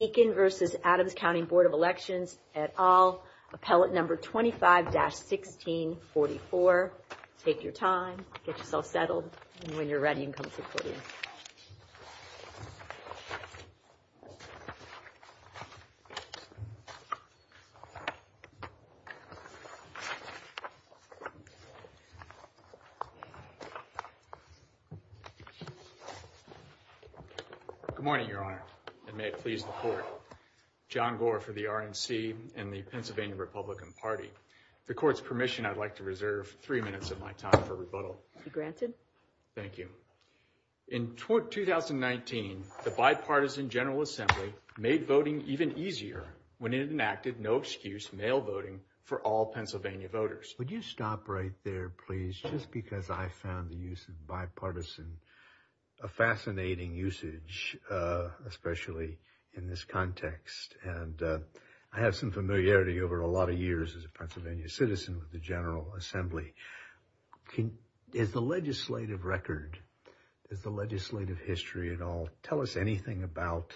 at all, appellate number 25-1644. Take your time, get yourself settled, and when you're ready, come sit with me. Good morning, Your Honor, and may it please the Court. John Gore for the RMC and the Pennsylvania Republican Party. The Court's permission, I'd like to reserve three minutes of my time for rebuttal. In 2019, the bipartisan General Assembly made voting even easier when it enacted no-excuse mail voting for all Pennsylvania voters. Would you stop right there, please, just because I found the use of bipartisan a fascinating usage, especially in this context. And I have some familiarity over a lot of years as a Pennsylvania citizen with the General Assembly. Is the legislative record, the legislative history at all, tell us anything about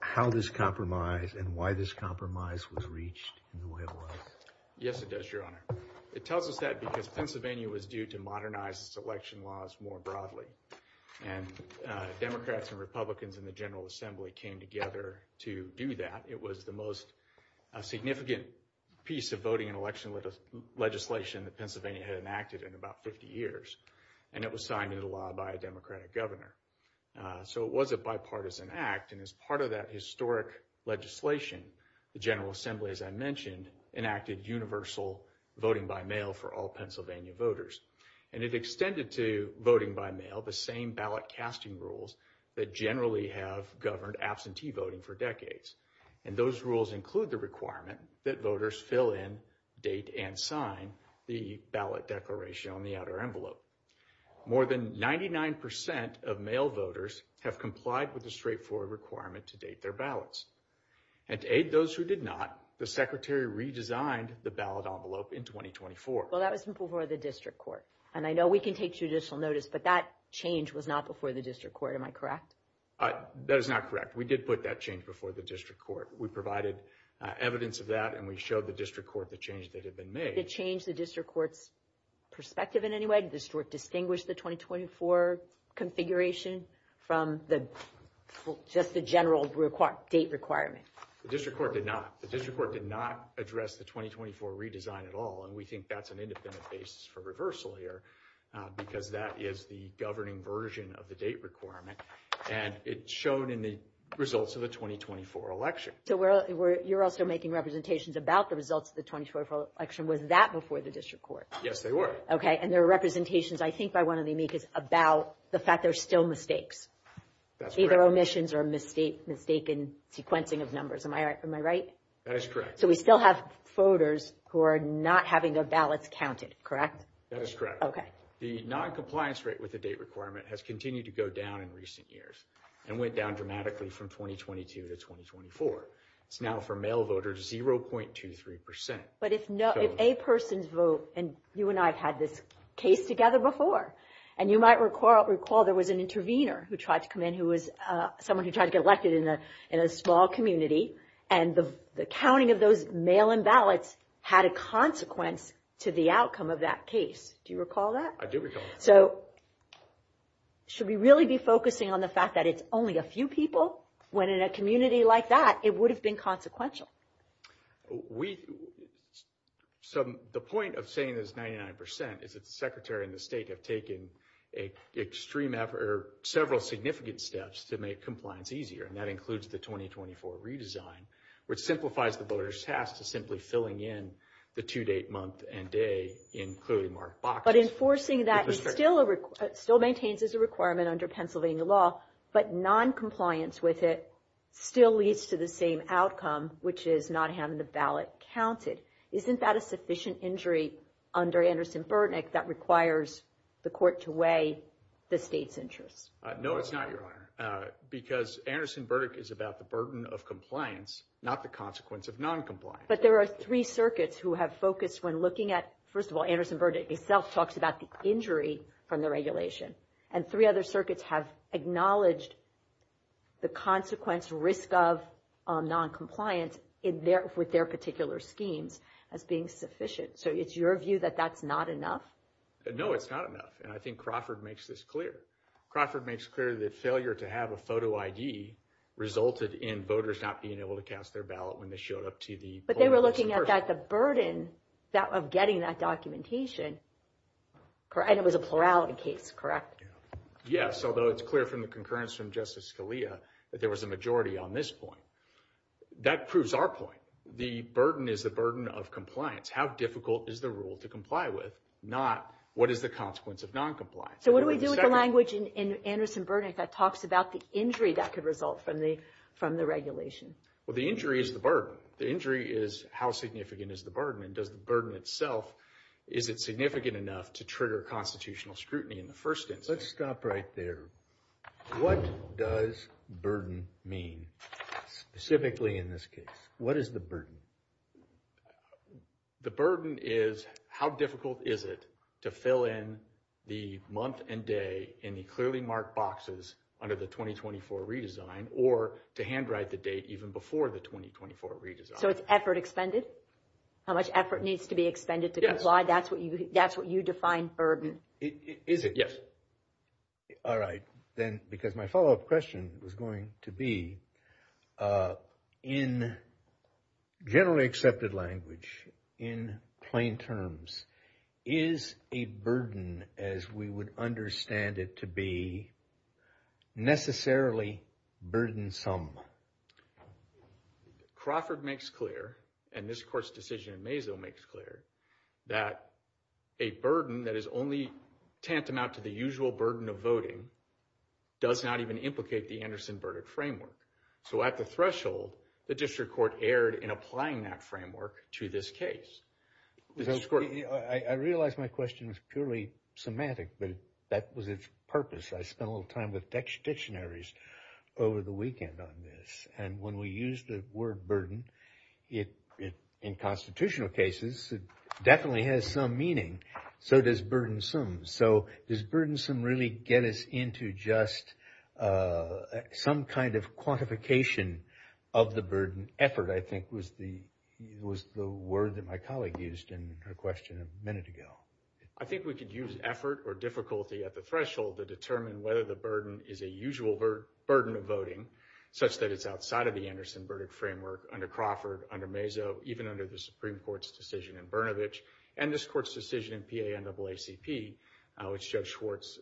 how this compromise and why this compromise was reached? Yes, it does, Your Honor. It tells us that because Pennsylvania was due to modernize its election laws more broadly. And Democrats and Republicans in the General Assembly came together to do that. It was the most significant piece of voting and election legislation that Pennsylvania had enacted in about 50 years. And it was signed into law by a Democratic governor. So it was a bipartisan act. And as part of that historic legislation, the General Assembly, as I mentioned, enacted universal voting by mail for all Pennsylvania voters. And it extended to voting by mail the same ballot casting rules that generally have governed absentee voting for decades. And those rules include the requirement that voters fill in, date and sign the ballot declaration on the outer envelope. More than 99 percent of mail voters have complied with the straightforward requirement to date their ballots. And to aid those who did not, the secretary redesigned the ballot envelope in 2024. Well, that was before the district court. And I know we can take judicial notice, but that change was not before the district court. Am I correct? That is not correct. We did put that change before the district court. We provided evidence of that and we showed the district court the change that had been made. Did it change the district court's perspective in any way? Did the district court distinguish the 2024 configuration from just the general date requirement? The district court did not. The district court did not address the 2024 redesign at all. And we think that's an indefinite basis for reversal here because that is the governing version of the date requirement. And it's shown in the results of the 2024 election. So you're also making representations about the results of the 2024 election. Was that before the district court? Yes, they were. And there are representations, I think, by one of the amicus about the fact there's still mistakes. Either omissions or mistaken sequencing of numbers. Am I right? That is correct. So we still have voters who are not having their ballots counted, correct? That is correct. The noncompliance rate with the date requirement has continued to go down in recent years and went down dramatically from 2022 to 2024. It's now for male voters 0.23%. But if a person's vote, and you and I have had this case together before, and you might recall there was an intervener who tried to come in who was someone who tried to get elected in a small community, and the counting of those mail-in ballots had a consequence to the outcome of that case. Do you recall that? I do recall that. So should we really be focusing on the fact that it's only a few people when in a community like that it would have been consequential? The point of saying it's 99% is the Secretary and the state have taken several significant steps to make compliance easier, and that includes the 2024 redesign, which simplifies the voters' task of simply filling in the two-date month and day, including Mark Box. But enforcing that still maintains it's a requirement under Pennsylvania law, but noncompliance with it still leads to the same outcome, which is not having the ballot counted. Isn't that a sufficient injury under Anderson-Burdick that requires the court to weigh the state's interest? No, it's not, Your Honor, because Anderson-Burdick is about the burden of compliance, not the consequence of noncompliance. But there are three circuits who have focused when looking at, first of all, Anderson-Burdick itself talks about the injury from the regulation, and three other circuits have acknowledged the consequence, risk of noncompliance with their particular schemes as being sufficient. So it's your view that that's not enough? No, it's not enough, and I think Crawford makes this clear. Crawford makes clear that failure to have a photo ID resulted in voters not being able to cast their ballot when they showed up to the polling station. But they were looking at the burden of getting that documentation, and it was a plurality case, correct? Yes, although it's clear from the concurrence from Justice Scalia that there was a majority on this point. That proves our point. The burden is the burden of compliance. How difficult is the rule to comply with, not what is the consequence of noncompliance? So what do we do with the language in Anderson-Burdick that talks about the injury that could result from the regulation? Well, the injury is the burden. The injury is how significant is the burden, and does the burden itself, is it significant enough to trigger constitutional scrutiny in the first instance? Let's stop right there. What does burden mean, specifically in this case? What is the burden? The burden is how difficult is it to fill in the month and day in the clearly marked boxes under the 2024 redesign or to handwrite the date even before the 2024 redesign? So it's effort expended? How much effort needs to be expended to comply? That's what you define burden. Is it? Yes. All right. Then, because my follow-up question is going to be, in generally accepted language, in plain terms, is a burden, as we would understand it to be, necessarily burdensome? Crawford makes clear, and this Court's decision in Mazo makes clear, that a burden that is only tantamount to the usual burden of voting does not even implicate the Anderson-Burdick framework. So at the threshold, the district court erred in applying that framework to this case. I realize my question is purely semantic, but that was its purpose. I spent a little time with dictionaries over the weekend on this. And when we use the word burden, in constitutional cases, it definitely has some meaning. So does burdensome. So does burdensome really get us into just some kind of quantification of the burden? Effort, I think, was the word that my colleague used in her question a minute ago. I think we could use effort or difficulty at the threshold to determine whether the burden is a usual burden of voting, such that it's outside of the Anderson-Burdick framework under Crawford, under Mazo, even under the Supreme Court's decision in Brnovich, and this Court's decision in PAN-AACP, which Judge Schwartz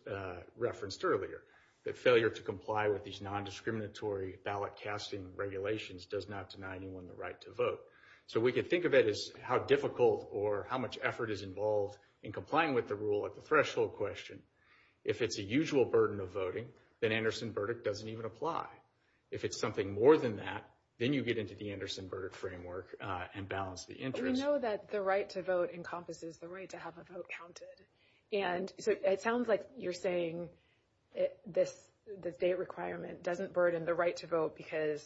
referenced earlier. That failure to comply with these nondiscriminatory ballot-casting regulations does not deny anyone the right to vote. So we could think of it as how difficult or how much effort is involved in complying with the rule at the threshold question. If it's a usual burden of voting, then Anderson-Burdick doesn't even apply. If it's something more than that, then you get into the Anderson-Burdick framework and balance the interest. We know that the right to vote encompasses the right to have a vote counted, and it sounds like you're saying the state requirement doesn't burden the right to vote because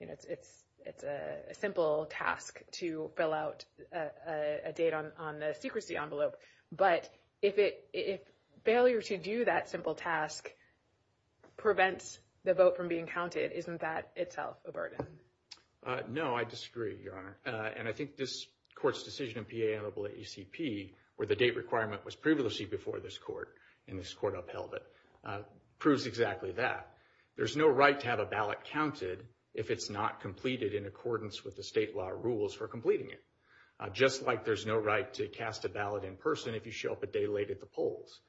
it's a simple task to fill out a date on the secrecy envelope. But if failure to do that simple task prevents the vote from being counted, isn't that itself a burden? No, I disagree, Your Honor. And I think this Court's decision in PAN-AACP, where the date requirement was previously before this Court and this Court upheld it, proves exactly that. There's no right to have a ballot counted if it's not completed in accordance with the state law rules for completing it. Just like there's no right to cast a ballot in person if you show up a day late at the polls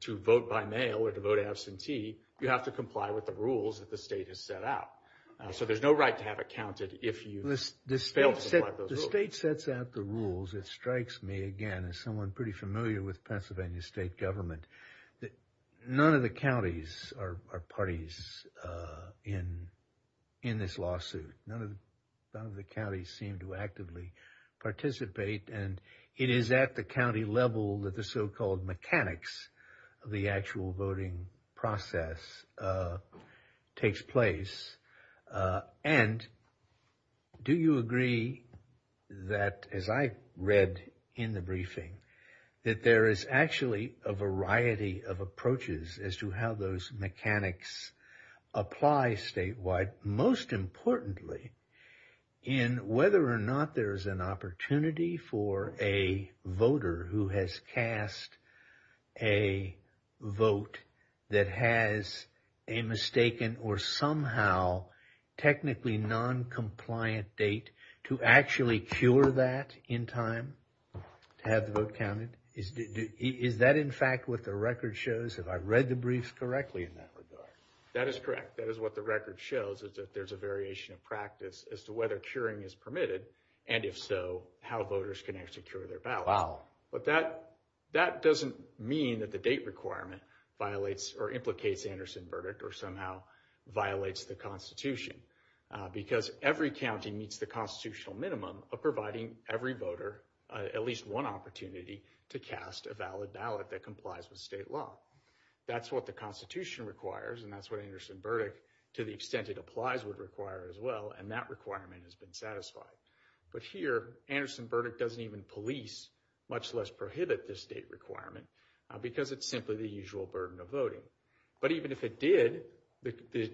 to vote by mail or to vote absentee, you have to comply with the rules that the state has set out. So there's no right to have it counted if you don't comply with the rules. The state sets out the rules. It strikes me, again, as someone pretty familiar with Pennsylvania state government, that none of the counties are parties in this lawsuit. None of the counties seem to actively participate. And it is at the county level that the so-called mechanics of the actual voting process takes place. And do you agree that, as I read in the briefing, that there is actually a variety of approaches as to how those mechanics apply statewide? But most importantly, in whether or not there's an opportunity for a voter who has cast a vote that has a mistaken or somehow technically noncompliant date to actually cure that in time, to have the vote counted? Is that, in fact, what the record shows? Have I read the briefs correctly in that regard? That is correct. That is what the record shows, is that there's a variation of practice as to whether curing is permitted, and if so, how voters can actually cure their ballot. But that doesn't mean that the date requirement violates or implicates Anderson's verdict or somehow violates the Constitution. Because every county meets the constitutional minimum of providing every voter at least one opportunity to cast a valid ballot that complies with state law. That's what the Constitution requires, and that's what Anderson's verdict, to the extent it applies, would require as well, and that requirement has been satisfied. But here, Anderson's verdict doesn't even police, much less prohibit, this date requirement because it's simply the usual burden of voting. But even if it did, the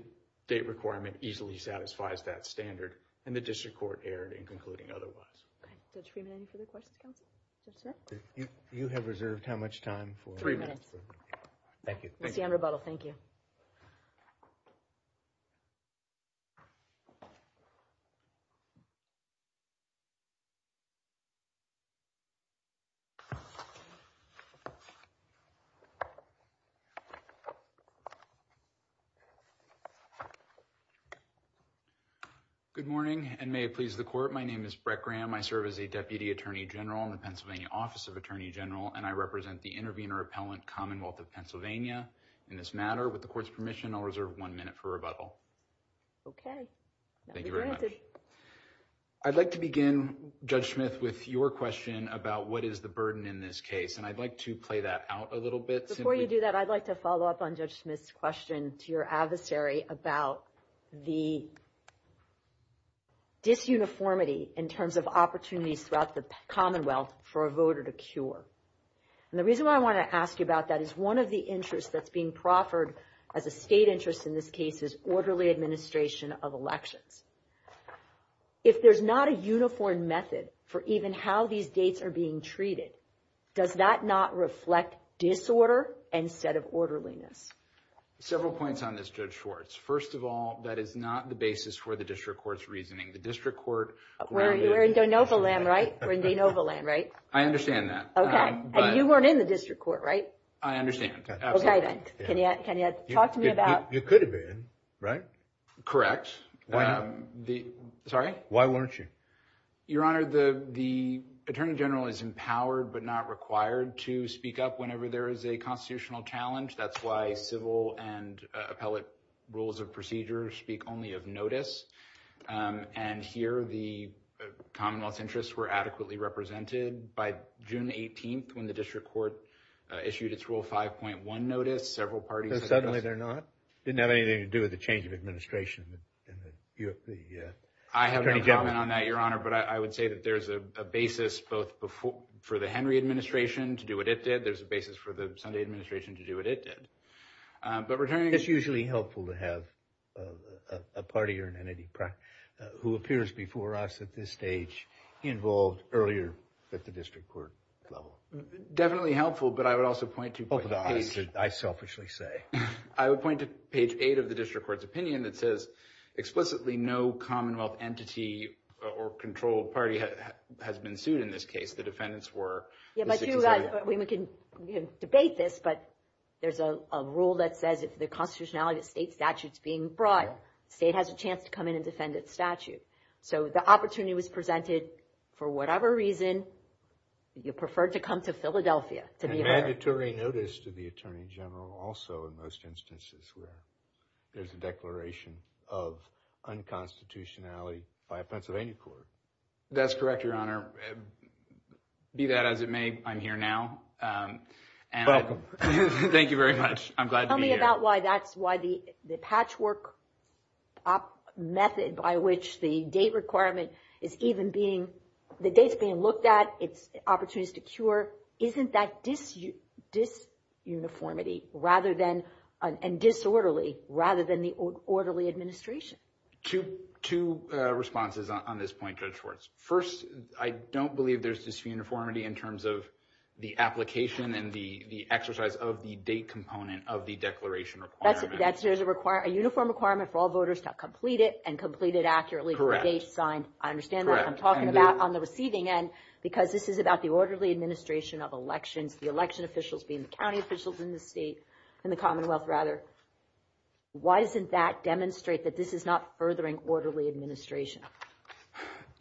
date requirement easily satisfies that standard, and the district court erred in concluding otherwise. We have three minutes for the questions. You have reserved how much time? Three minutes. Thank you. Thank you. Good morning, and may it please the court. My name is Brett Graham. I serve as a Deputy Attorney General in the Pennsylvania Office of Attorney General, and I represent the intervener appellant Commonwealth of Pennsylvania. In this matter, with the court's permission, I'll reserve one minute for rebuttal. Okay. Thank you very much. I'd like to begin, Judge Smith, with your question about what is the burden in this case, and I'd like to play that out a little bit. Before you do that, I'd like to follow up on Judge Smith's question to your adversary about the disuniformity in terms of opportunities throughout the Commonwealth for a voter to cure. And the reason why I want to ask you about that is one of the interests that's being proffered as a state interest in this case is orderly administration of elections. If there's not a uniform method for even how these dates are being treated, does that not reflect disorder instead of orderliness? Several points on this, Judge Schwartz. First of all, that is not the basis for the district court's reasoning. The district court- We're in de novo land, right? We're in de novo land, right? I understand that. Okay. And you weren't in the district court, right? I understand. Okay, then. Can you talk to me about- You could have been, right? Correct. Why not? Sorry? Why weren't you? Your Honor, the Attorney General is empowered but not required to speak up whenever there is a constitutional challenge. That's why civil and appellate rules of procedure speak only of notice. And here, the commonwealth's interests were adequately represented by June 18th when the district court issued its Rule 5.1 notice. Several parties- But suddenly they're not? It didn't have anything to do with the change of administration in the- I have no comment on that, Your Honor, but I would say that there's a basis both for the Henry administration to do what it did. There's a basis for the Sunday administration to do what it did. But returning- It's usually helpful to have a party or an entity who appears before us at this stage involved earlier at the district court level. Definitely helpful, but I would also point to page- I selfishly say. I would point to page 8 of the district court's opinion that says explicitly no commonwealth entity or controlled party has been sued in this case. The defendants were- We can debate this, but there's a rule that says if the constitutionality of state statutes is being brought, the state has a chance to come in and defend its statute. So the opportunity was presented for whatever reason. You preferred to come to Philadelphia. And mandatory notice to the attorney general also in most instances where there's a declaration of unconstitutionality by a Pennsylvania court. That's correct, Your Honor. Do that as it may. I'm here now. You're welcome. Thank you very much. I'm glad to be here. Tell me about why that's why the patchwork method by which the date requirement is even being- The date's being looked at. Opportunities to cure. Isn't that disuniformity and disorderly rather than the orderly administration? Two responses on this point, Judge Hortons. First, I don't believe there's disuniformity in terms of the application and the exercise of the date component of the declaration requirement. A uniform requirement for all voters to complete it and complete it accurately. I understand what I'm talking about on the receiving end because this is about the orderly administration of elections, the election officials being county officials in the state, in the commonwealth rather. Why doesn't that demonstrate that this is not furthering orderly administration?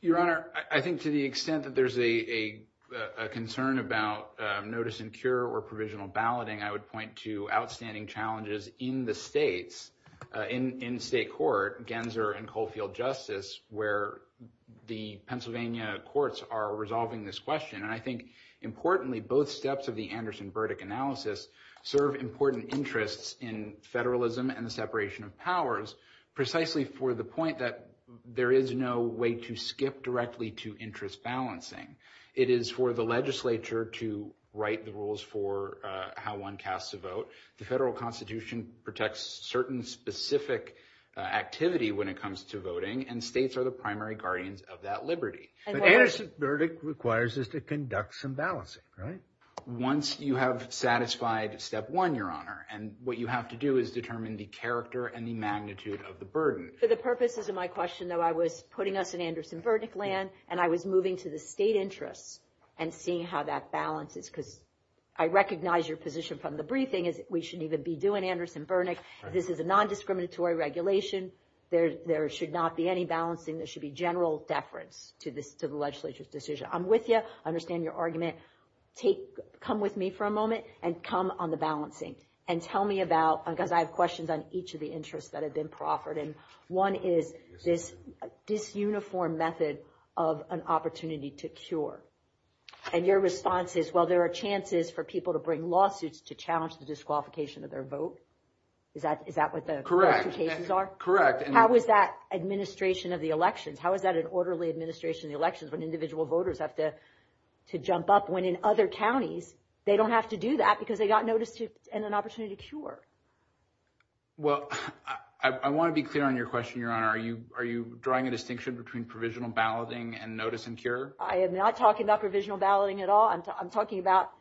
Your Honor, I think to the extent that there's a concern about notice and cure or provisional balloting, I would point to outstanding challenges in the states, in state court, Gensler and Coalfield Justice, where the Pennsylvania courts are resolving this question. I think, importantly, both steps of the Anderson-Burdick analysis serve important interests in federalism and separation of powers, precisely for the point that there is no way to skip directly to interest balancing. It is for the legislature to write the rules for how one casts a vote. The federal constitution protects certain specific activity when it comes to voting, and states are the primary guardians of that liberty. But Anderson-Burdick requires us to conduct some balancing, right? Once you have satisfied step one, Your Honor, and what you have to do is determine the character and the magnitude of the burden. For the purposes of my question, though, I was putting us in Anderson-Burdick land, and I was moving to the state interest and seeing how that balances. Because I recognize your position from the briefing is we shouldn't even be doing Anderson-Burdick. This is a nondiscriminatory regulation. There should not be any balancing. There should be general deference to the legislature's decision. I'm with you. I understand your argument. Come with me for a moment and come on the balancing and tell me about – because I have questions on each of the interests that have been proffered. And one is this disuniform method of an opportunity to cure. And your response is, well, there are chances for people to bring lawsuits to challenge the disqualification of their vote. Is that what the specifications are? Correct. How is that administration of the elections? How is that an orderly administration of the elections when individual voters have to jump up when in other counties they don't have to do that because they got notice and an opportunity to cure? Well, I want to be clear on your question, Your Honor. Are you drawing a distinction between provisional balloting and notice and cure? I am not talking about provisional balloting at all. I'm talking about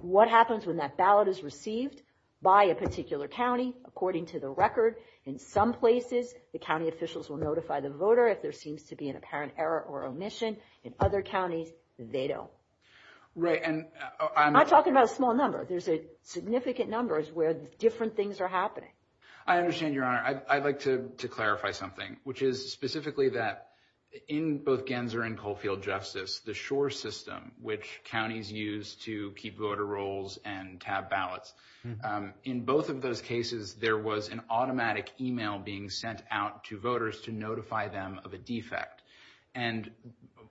what happens when that ballot is received by a particular county according to the record. In some places, the county officials will notify the voter if there seems to be an apparent error or omission. In other counties, they don't. Right. I'm talking about a small number. There's a significant number where different things are happening. I understand, Your Honor. I'd like to clarify something, which is specifically that in both Genzer and Coalfield Justice, the SURE system, which counties use to keep voter rolls and tab ballots, in both of those cases, there was an automatic email being sent out to voters to notify them of a defect. And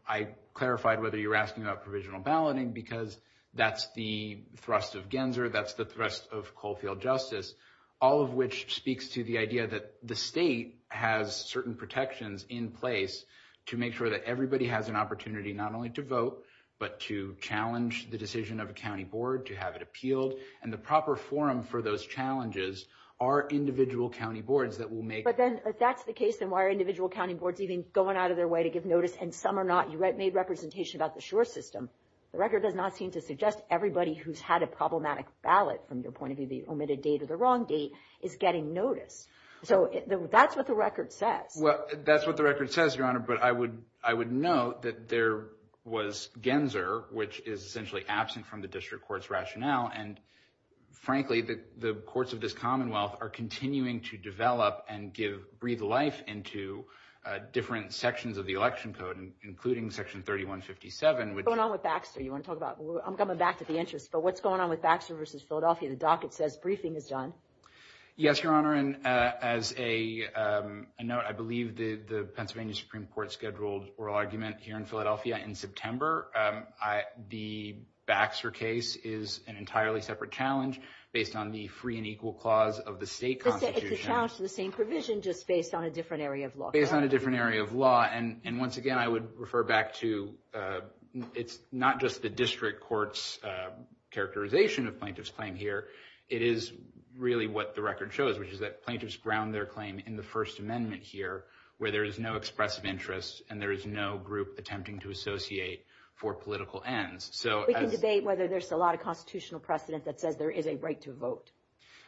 I clarified whether you were asking about provisional balloting because that's the thrust of Genzer. That's the thrust of Coalfield Justice, all of which speaks to the idea that the state has certain protections in place to make sure that everybody has an opportunity not only to vote but to challenge the decision of a county board to have it appealed. And the proper forum for those challenges are individual county boards that will make… But then, if that's the case, then why are individual county boards even going out of their way to give notice and some are not? You made representation about the SURE system. The record does not seem to suggest everybody who's had a problematic ballot, from the point of view of the omitted date or the wrong date, is getting notice. So, that's what the record says. Well, that's what the record says, Your Honor, but I would note that there was Genzer, which is essentially absent from the district court's rationale. And, frankly, the courts of this commonwealth are continuing to develop and breathe life into different sections of the election code, including Section 3157. What's going on with Baxter? I'm coming back to the interest. But what's going on with Baxter v. Philadelphia? The docket says briefing is done. Yes, Your Honor, and as a note, I believe the Pennsylvania Supreme Court scheduled oral argument here in Philadelphia in September. The Baxter case is an entirely separate challenge based on the free and equal clause of the state constitution. It's a challenge to the same provision, just based on a different area of law. Based on a different area of law. And, once again, I would refer back to it's not just the district court's characterization of plaintiff's claim here. It is really what the record shows, which is that plaintiffs ground their claim in the First Amendment here, where there is no expressive interest and there is no group attempting to associate for political ends. We can debate whether there's a lot of constitutional precedent that says there is a right to vote.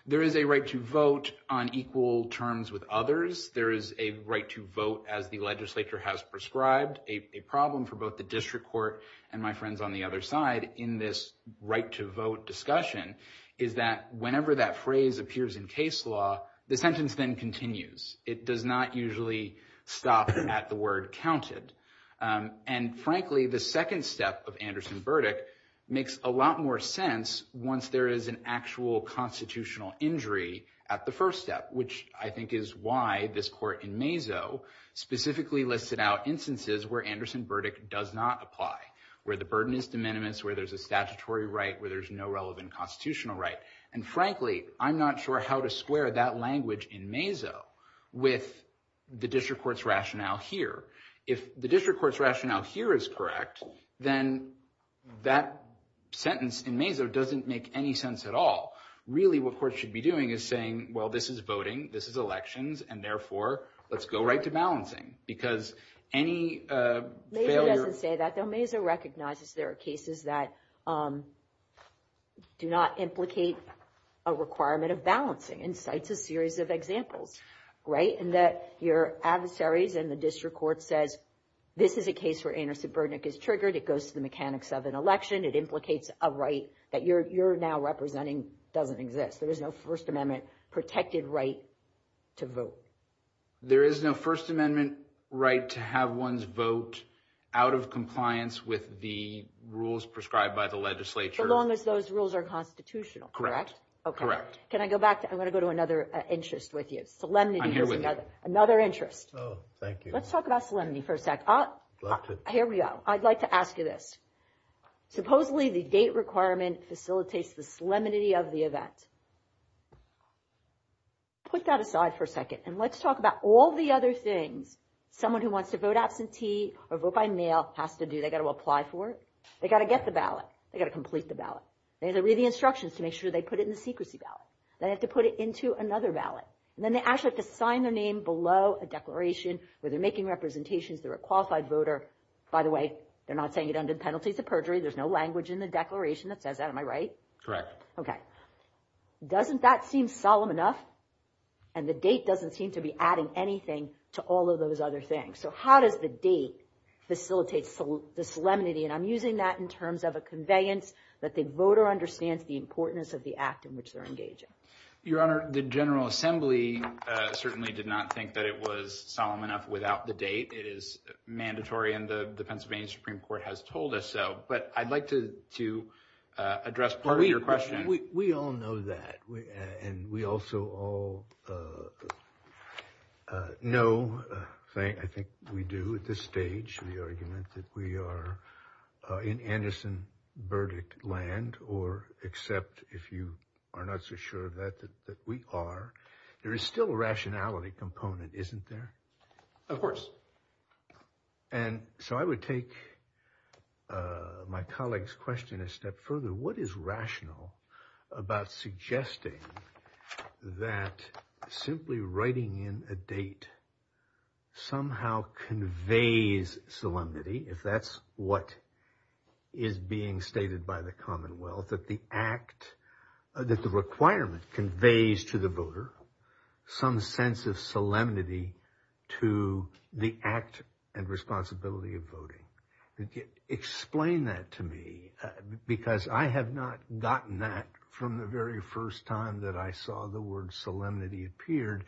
There is a right to vote on equal terms with others. There is a right to vote as the legislature has prescribed. A problem for both the district court and my friends on the other side in this right to vote discussion is that whenever that phrase appears in case law, the sentence then continues. It does not usually stop at the word counted. And, frankly, the second step of Anderson Burdick makes a lot more sense once there is an actual constitutional injury at the first step, which I think is why this court in Mazo specifically listed out instances where Anderson Burdick does not apply, where the burden is de minimis, where there's a statutory right, where there's no relevant constitutional right. And, frankly, I'm not sure how to square that language in Mazo with the district court's rationale here. If the district court's rationale here is correct, then that sentence in Mazo doesn't make any sense at all. Really, what courts should be doing is saying, well, this is voting, this is elections, and, therefore, let's go right to balancing. Because any failure – Mazo doesn't say that, though. Mazo recognizes there are cases that do not implicate a requirement of balancing and cites a series of examples, right, in that your adversaries and the district court said, this is a case where Anderson Burdick is triggered. It goes to the mechanics of an election. It implicates a right that you're now representing doesn't exist. There is no First Amendment protected right to vote. There is no First Amendment right to have one's vote out of compliance with the rules prescribed by the legislature. So long as those rules are constitutional, correct? Okay. Can I go back? I want to go to another interest with you. I'm here with you. Another interest. Oh, thank you. Let's talk about solemnity for a sec. I'd love to. Here we go. I'd like to ask you this. Supposedly, the date requirement facilitates the solemnity of the event. Put that aside for a second, and let's talk about all the other things someone who wants to vote absentee or vote by mail has to do. They've got to apply for it. They've got to get the ballot. They've got to complete the ballot. They have to read the instructions to make sure they put it in the secrecy ballot. They have to put it into another ballot. And then they actually have to sign the name below a declaration where they're making representations. They're a qualified voter. By the way, they're not saying it under penalties of perjury. There's no language in the declaration that says that. Am I right? Okay. Doesn't that seem solemn enough? And the date doesn't seem to be adding anything to all of those other things. So how does the date facilitate the solemnity? And I'm using that in terms of a conveyance that the voter understands the importance of the act in which they're engaging. Your Honor, the General Assembly certainly did not think that it was solemn enough without the date. It is mandatory, and the Pennsylvania Supreme Court has told us so. But I'd like to address part of your question. We all know that. And we also all know, I think we do at this stage, the argument that we are in Anderson Burdick land, or except if you are not so sure of that, that we are. There is still a rationality component, isn't there? Of course. And so I would take my colleague's question a step further. What is rational about suggesting that simply writing in a date somehow conveys solemnity, if that's what is being stated by the Commonwealth, that the act, that the requirement conveys to the voter some sense of solemnity to the act and responsibility of voting? Explain that to me, because I have not gotten that from the very first time that I saw the word solemnity appeared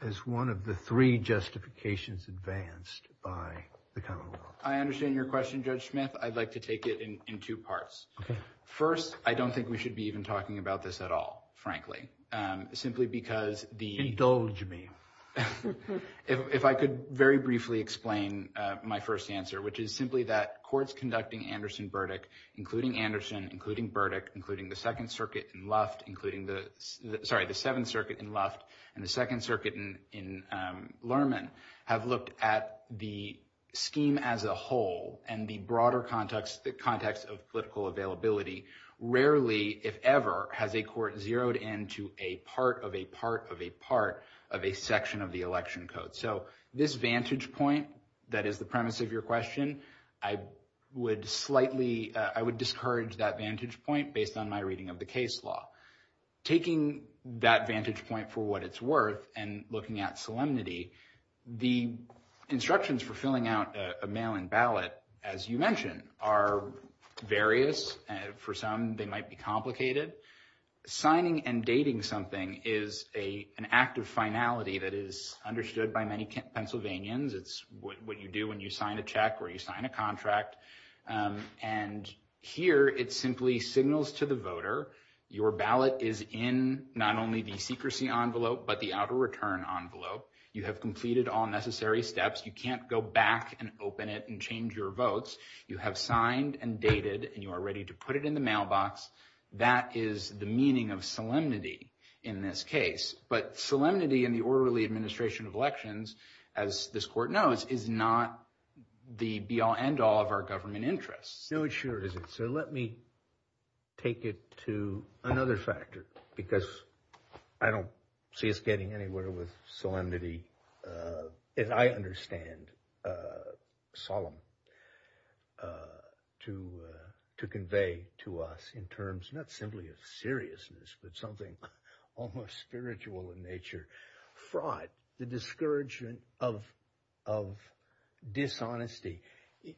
as one of the three justifications advanced by the Commonwealth. I understand your question, Judge Smith. I'd like to take it in two parts. First, I don't think we should be even talking about this at all, frankly, simply because the... Indulge me. If I could very briefly explain my first answer, which is simply that courts conducting Anderson Burdick, including Anderson, including Burdick, including the Second Circuit in Luft, including the... Sorry, the Seventh Circuit in Luft and the Second Circuit in Lerman have looked at the scheme as a whole and the broader context of political availability. Rarely, if ever, has a court zeroed in to a part of a part of a part of a section of the election code. So this vantage point that is the premise of your question, I would slightly... I would discourage that vantage point based on my reading of the case law. Taking that vantage point for what it's worth and looking at solemnity, the instructions for filling out a mail-in ballot, as you mentioned, are various. For some, they might be complicated. Signing and dating something is an act of finality that is understood by many Pennsylvanians. It's what you do when you sign a check or you sign a contract. And here, it simply signals to the voter, your ballot is in not only the secrecy envelope, but the out-of-return envelope. You have completed all necessary steps. You can't go back and open it and change your votes. You have signed and dated and you are ready to put it in the mailbox. That is the meaning of solemnity in this case. But solemnity in the orderly administration of elections, as this court knows, is not the be-all, end-all of our government interests. No, it sure isn't. So let me take it to another factor because I don't see us getting anywhere with solemnity. And I understand solemn to convey to us in terms not simply of seriousness, but something almost spiritual in nature. Fraud, the discouragement of dishonesty.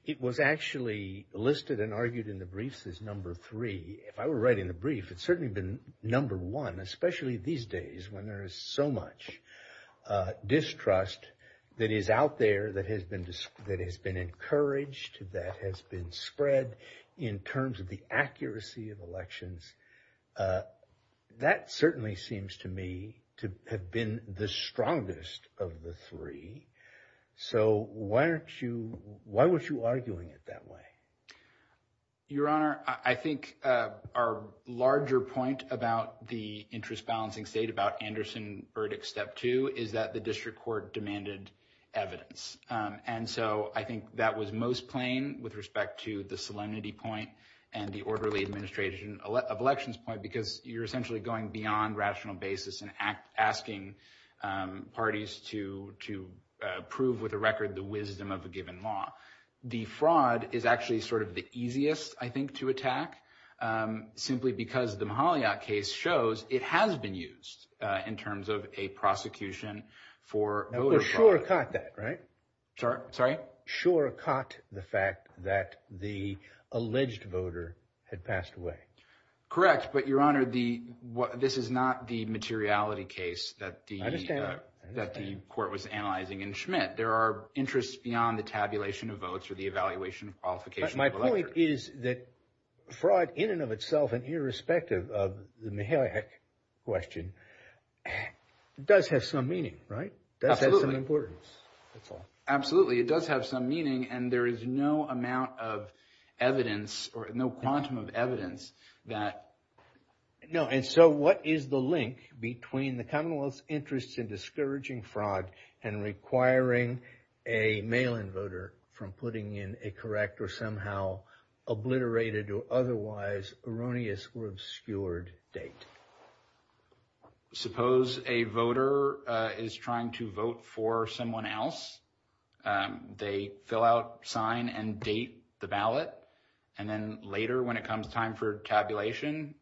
It was actually listed and argued in the briefs as number three. If I were writing a brief, it certainly would have been number one, especially these days when there is so much distrust that is out there, that has been encouraged, that has been spread in terms of the accuracy of elections. That certainly seems to me to have been the strongest of the three. So why weren't you arguing it that way? Your Honor, I think our larger point about the interest-balancing state, about Anderson's verdict step two, is that the district court demanded evidence. And so I think that was most plain with respect to the solemnity point and the orderly administration of elections point, because you're essentially going beyond rational basis and asking parties to prove with a record the wisdom of a given law. The fraud is actually sort of the easiest, I think, to attack, simply because the Mahaliot case shows it has been used in terms of a prosecution for voter fraud. Sure caught that, right? Sorry? Sure caught the fact that the alleged voter had passed away. Correct, but Your Honor, this is not the materiality case that the court was analyzing in Schmidt. There are interests beyond the tabulation of votes or the evaluation of qualifications. But my point is that fraud in and of itself, and irrespective of the Mahaliot question, does have some meaning, right? Absolutely. Does have some importance. Absolutely. It does have some meaning, and there is no amount of evidence or no quantum of evidence that. And so what is the link between the Commonwealth's interest in discouraging fraud and requiring a mail-in voter from putting in a correct or somehow obliterated or otherwise erroneous or obscured date? Suppose a voter is trying to vote for someone else. They fill out, sign and date the ballot. And then later, when it comes time for tabulation,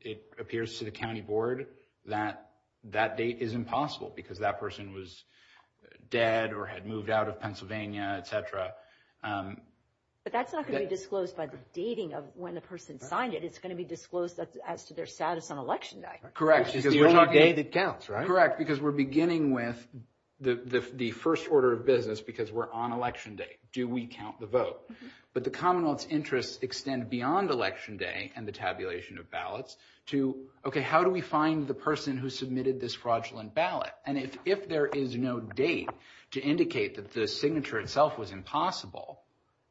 it appears to the county board that that date is impossible because that person was dead or had moved out of Pennsylvania, etc. But that's not going to be disclosed by the dating of when the person signed it. It's going to be disclosed as to their status on election day. Correct. Because the only date it counts, right? Correct, because we're beginning with the first order of business because we're on election day. Do we count the vote? But the Commonwealth's interests extend beyond election day and the tabulation of ballots to, okay, how do we find the person who submitted this fraudulent ballot? And if there is no date to indicate that the signature itself was impossible,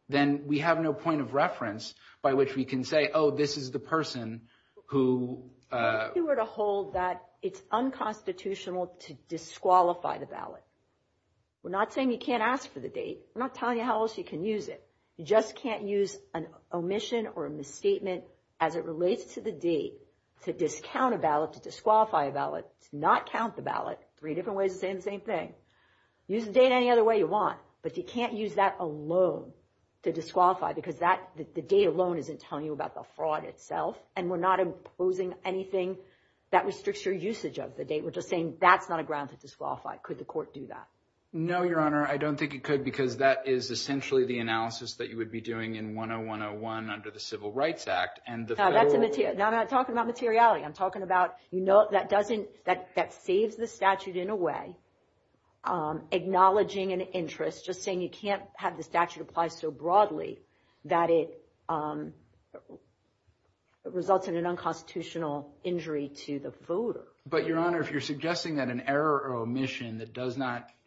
then we have no point of reference by which we can say, oh, this is the person who… If you were to hold that it's unconstitutional to disqualify the ballot. We're not saying you can't ask for the date. We're not telling you how else you can use it. You just can't use an omission or a misstatement as it relates to the date to discount a ballot, to disqualify a ballot, to not count the ballot. Three different ways of saying the same thing. Use the date any other way you want, but you can't use that alone to disqualify because the date alone isn't telling you about the fraud itself. And we're not imposing anything that restricts your usage of the date. We're just saying that's not a ground to disqualify. Could the court do that? No, Your Honor. I don't think it could because that is essentially the analysis that you would be doing in 10101 under the Civil Rights Act. Now I'm not talking about materiality. I'm talking about that saves the statute in a way, acknowledging an interest, just saying you can't have the statute apply so broadly that it results in an unconstitutional injury to the voter. But, Your Honor, if you're suggesting that an error or omission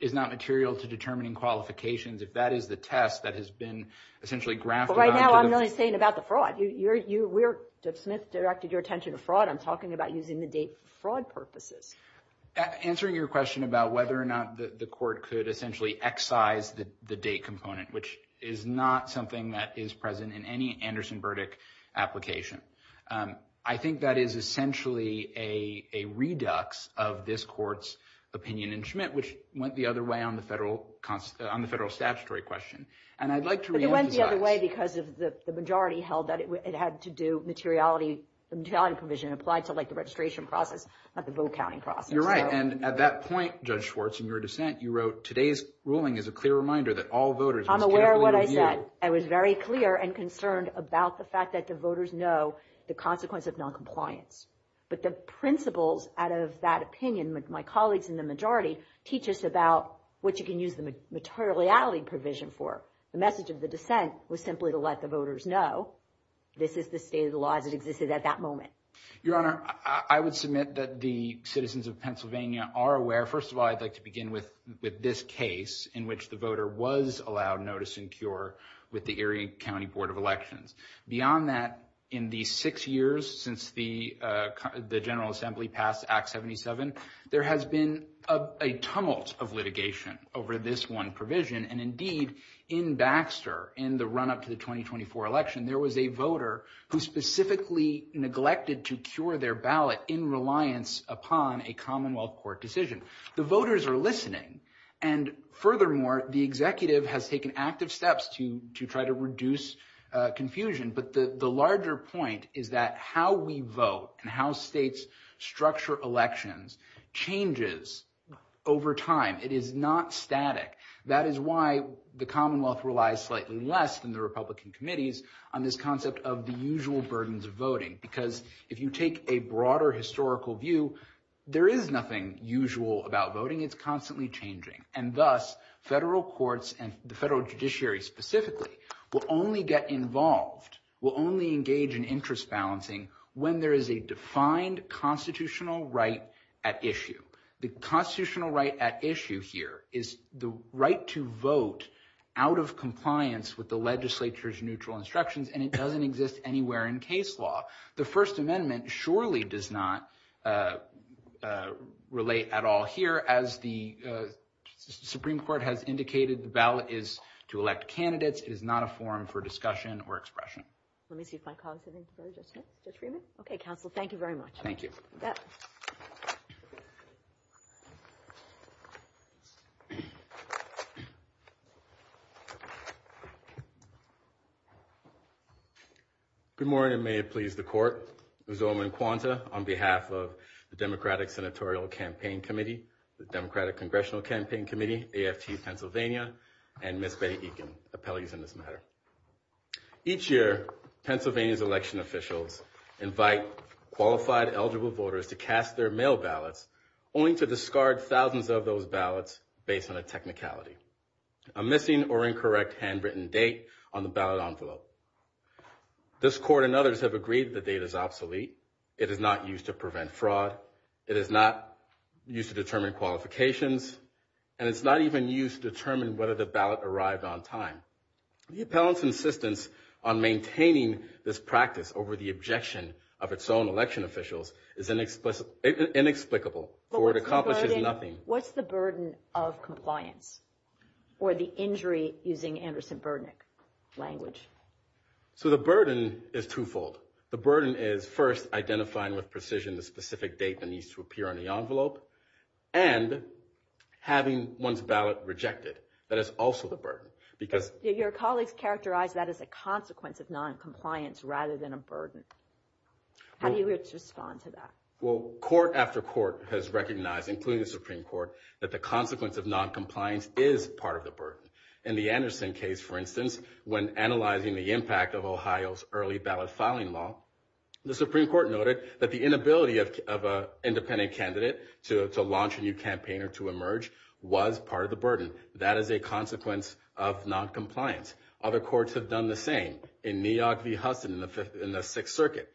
is not material to determining qualifications, if that is the test that has been essentially grafted onto the- But right now I'm really saying about the fraud. Smith directed your attention to fraud. I'm talking about using the date for fraud purposes. Answering your question about whether or not the court could essentially excise the date component, which is not something that is present in any Anderson-Burdick application. I think that is essentially a redux of this court's opinion in Schmidt, which went the other way on the federal statutory question. And I'd like to- But it went the other way because the majority held that it had to do materiality, the materiality provision applied to the registration process, not the vote counting process. You're right. And at that point, Judge Schwartz, in your dissent, you wrote, today's ruling is a clear reminder that all voters- I'm aware of what I said. I was very clear and concerned about the fact that the voters know the consequence of noncompliance. But the principles out of that opinion with my colleagues in the majority teach us about what you can use the materiality provision for. The message of the dissent was simply to let the voters know this is the state of the law that existed at that moment. Your Honor, I would submit that the citizens of Pennsylvania are aware. First of all, I'd like to begin with this case in which the voter was allowed notice and cure with the Erie County Board of Elections. Beyond that, in the six years since the General Assembly passed Act 77, there has been a tunnel of litigation over this one provision. And indeed, in Baxter, in the run-up to the 2024 election, there was a voter who specifically neglected to cure their ballot in reliance upon a commonwealth court decision. The voters are listening. And furthermore, the executive has taken active steps to try to reduce confusion. But the larger point is that how we vote and how states structure elections changes over time. It is not static. That is why the commonwealth relies slightly less than the Republican committees on this concept of the usual burdens of voting. Because if you take a broader historical view, there is nothing usual about voting. It's constantly changing. And thus, federal courts and the federal judiciary specifically will only get involved, will only engage in interest balancing when there is a defined constitutional right at issue. The constitutional right at issue here is the right to vote out of compliance with the legislature's neutral instructions. And it doesn't exist anywhere in case law. The First Amendment surely does not relate at all here. As the Supreme Court has indicated, the ballot is to elect candidates. It is not a forum for discussion or expression. Okay, counsel, thank you very much. Thank you. Good morning, and may it please the court. Ms. Oman Kwanta on behalf of the Democratic Senatorial Campaign Committee, the Democratic Congressional Campaign Committee, AFT Pennsylvania, and Ms. Betty Eakin, appellees in this matter. Each year, Pennsylvania's election officials invite qualified eligible voters to cast their mail ballots only to discard thousands of those ballots based on a technicality, a missing or incorrect handwritten date on the ballot envelope. This court and others have agreed the date is obsolete. It is not used to prevent fraud. It is not used to determine qualifications. And it's not even used to determine whether the ballot arrived on time. The appellant's insistence on maintaining this practice over the objection of its own election officials is inexplicable or it accomplishes nothing. What's the burden of compliance or the injury using Anderson-Bernick language? So the burden is twofold. The burden is first identifying with precision the specific date that needs to appear on the envelope and having one's ballot rejected. That is also the burden. Your colleagues characterize that as a consequence of noncompliance rather than a burden. How do you respond to that? Well, court after court has recognized, including the Supreme Court, that the consequence of noncompliance is part of the burden. In the Anderson case, for instance, when analyzing the impact of Ohio's early ballot filing law, the Supreme Court noted that the inability of an independent candidate to launch a new campaign or to emerge was part of the burden. That is a consequence of noncompliance. Other courts have done the same. In New York v. Hudson in the Sixth Circuit,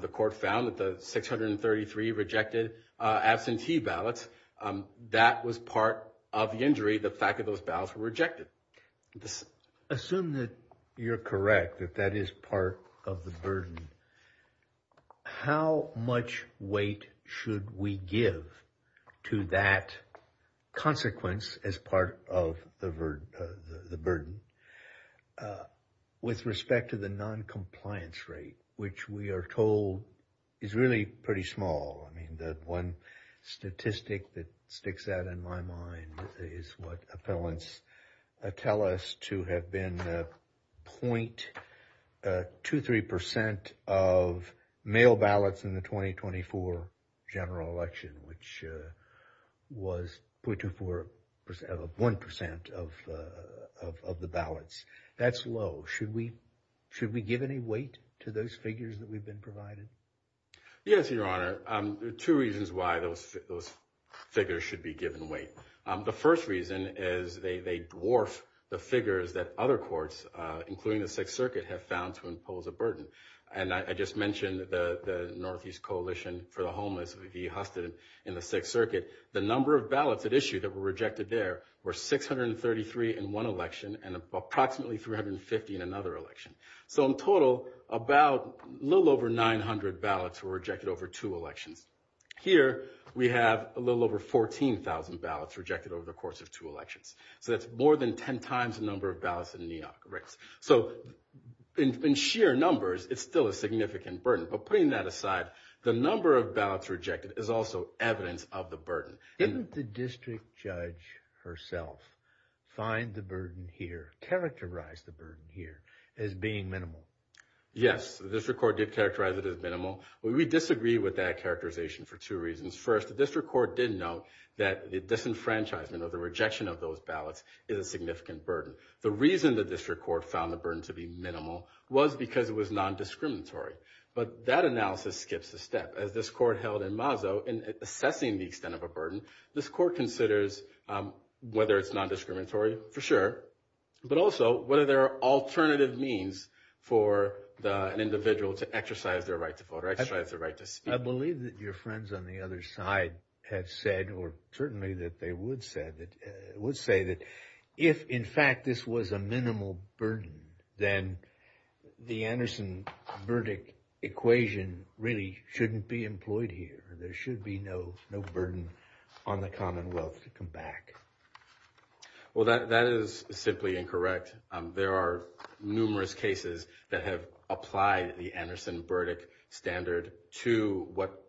the court found that the 633 rejected absentee ballots. That was part of the injury, the fact that those ballots were rejected. Assume that you're correct, that that is part of the burden. With respect to the noncompliance rate, which we are told is really pretty small. One statistic that sticks out in my mind is what appellants tell us to have been 0.23% of mail ballots in the 2024 general election, which was 0.24%, 1% of the ballots. That's low. Should we give any weight to those figures that we've been provided? Yes, Your Honor. There are two reasons why those figures should be given weight. The first reason is they dwarf the figures that other courts, including the Sixth Circuit, have found to impose a burden. And I just mentioned the Northeast Coalition for the Homeless v. Hudson in the Sixth Circuit. The number of ballots that issued that were rejected there were 633 in one election and approximately 350 in another election. So in total, about a little over 900 ballots were rejected over two elections. Here we have a little over 14,000 ballots rejected over the course of two elections. So that's more than 10 times the number of ballots in New York, correct? So in sheer numbers, it's still a significant burden. But putting that aside, the number of ballots rejected is also evidence of the burden. Didn't the district judge herself find the burden here, characterize the burden here as being minimal? Yes, the district court did characterize it as minimal. We disagree with that characterization for two reasons. First, the district court did note that the disenfranchisement or the rejection of those ballots is a significant burden. The reason the district court found the burden to be minimal was because it was nondiscriminatory. But that analysis skips a step. As this court held in Mazo, in assessing the extent of a burden, this court considers whether it's nondiscriminatory, for sure, but also whether there are alternative means for an individual to exercise their right to vote or exercise their right to speak. I believe that your friends on the other side have said, or certainly that they would say, that if, in fact, this was a minimal burden, then the Anderson-Burdick equation really shouldn't be employed here. There should be no burden on the Commonwealth to come back. Well, that is simply incorrect. There are numerous cases that have applied the Anderson-Burdick standard to what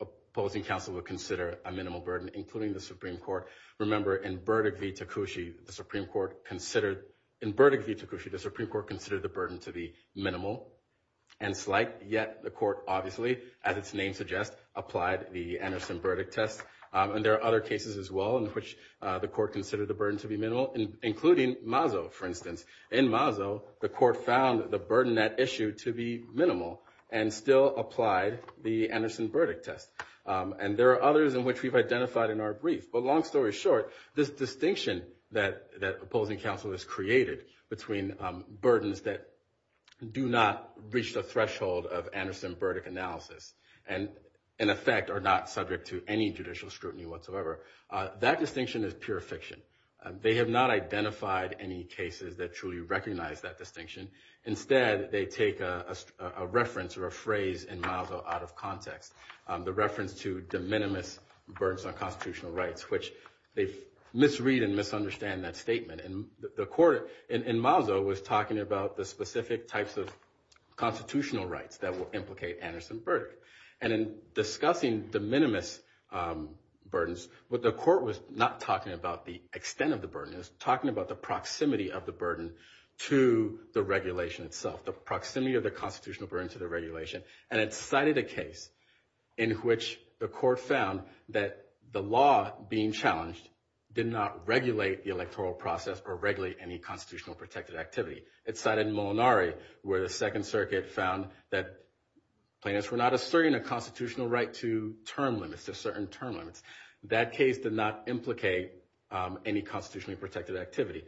a political council would consider a minimal burden, including the Supreme Court. Remember, in Burdick v. Takushi, the Supreme Court considered the burden to be minimal and slight, yet the court obviously, as its name suggests, applied the Anderson-Burdick test. And there are other cases as well in which the court considered the burden to be minimal, including Mazo, for instance. In Mazo, the court found the burden that issued to be minimal and still applied the Anderson-Burdick test. And there are others in which we've identified in our brief. But long story short, this distinction that the opposing council has created between burdens that do not reach the threshold of Anderson-Burdick analysis and, in effect, are not subject to any judicial scrutiny whatsoever, that distinction is pure fiction. They have not identified any cases that truly recognize that distinction. Instead, they take a reference or a phrase in Mazo out of context, the reference to de minimis burdens on constitutional rights, which they misread and misunderstand that statement. And the court in Mazo was talking about the specific types of constitutional rights that will implicate Anderson-Burdick. And in discussing de minimis burdens, what the court was not talking about the extent of the burden. It was talking about the proximity of the burden to the regulation itself, the proximity of the constitutional burden to the regulation. And it cited a case in which the court found that the law being challenged did not regulate the electoral process or regulate any constitutional protected activity. It cited Molinari, where the Second Circuit found that plaintiffs were not asserting a constitutional right to term limits, to certain term limits. That case did not implicate any constitutionally protected activity.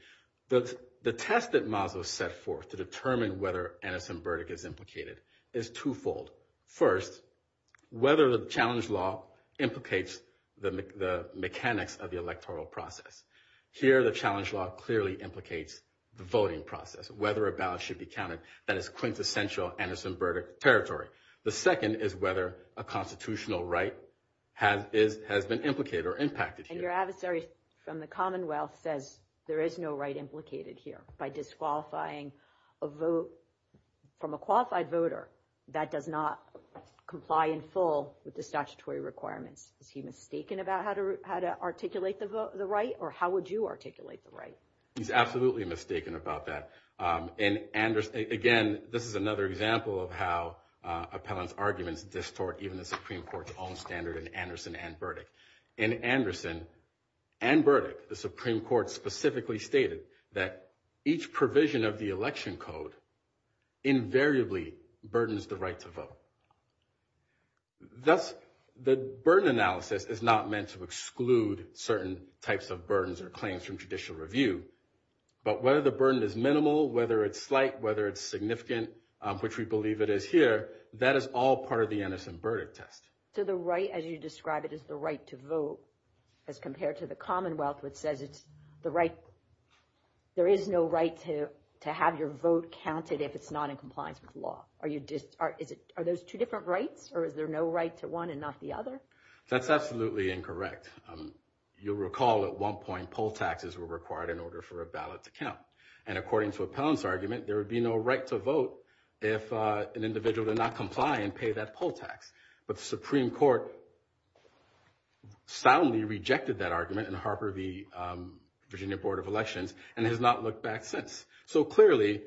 The test that Mazo set forth to determine whether Anderson-Burdick is implicated is twofold. First, whether the challenge law implicates the mechanics of the electoral process. Here, the challenge law clearly implicates the voting process, whether a ballot should be counted that is quintessential Anderson-Burdick territory. The second is whether a constitutional right has been implicated or impacted here. And your adversary from the Commonwealth says there is no right implicated here by disqualifying a vote from a qualified voter that does not comply in full with the statutory requirements. Is he mistaken about how to articulate the right, or how would you articulate the right? He's absolutely mistaken about that. Again, this is another example of how appellant arguments distort even the Supreme Court's own standard in Anderson and Burdick. The Supreme Court specifically stated that each provision of the election code invariably burdens the right to vote. Thus, the burden analysis is not meant to exclude certain types of burdens or claims from judicial review. But whether the burden is minimal, whether it's slight, whether it's significant, which we believe it is here, that is all part of the Anderson-Burdick test. So the right, as you describe it, is the right to vote. As compared to the Commonwealth, which says it's the right, there is no right to have your vote counted if it's not in compliance with law. Are those two different rights, or is there no right to one and not the other? That's absolutely incorrect. You'll recall at one point poll taxes were required in order for a ballot to count. And according to appellant's argument, there would be no right to vote if an individual did not comply and pay that poll tax. But the Supreme Court soundly rejected that argument in Harper v. Virginia Board of Elections and has not looked back since. So clearly,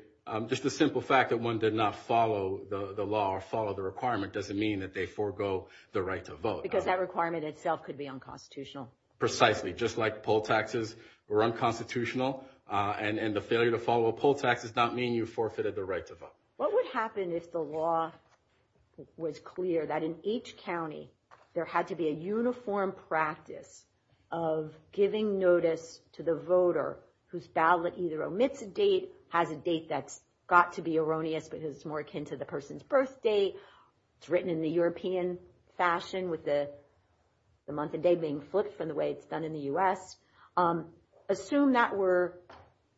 just the simple fact that one did not follow the law or follow the requirement doesn't mean that they forgo the right to vote. Because that requirement itself could be unconstitutional. Precisely. Just like poll taxes were unconstitutional, and the failure to follow a poll tax does not mean you forfeited the right to vote. What would happen if the law was clear that in each county there had to be a uniform practice of giving notice to the voter whose ballot either omits a date, has a date that's got to be erroneous because it's more akin to the person's birth date, it's written in the European fashion with the month and date being flipped from the way it's done in the U.S.? Assume that were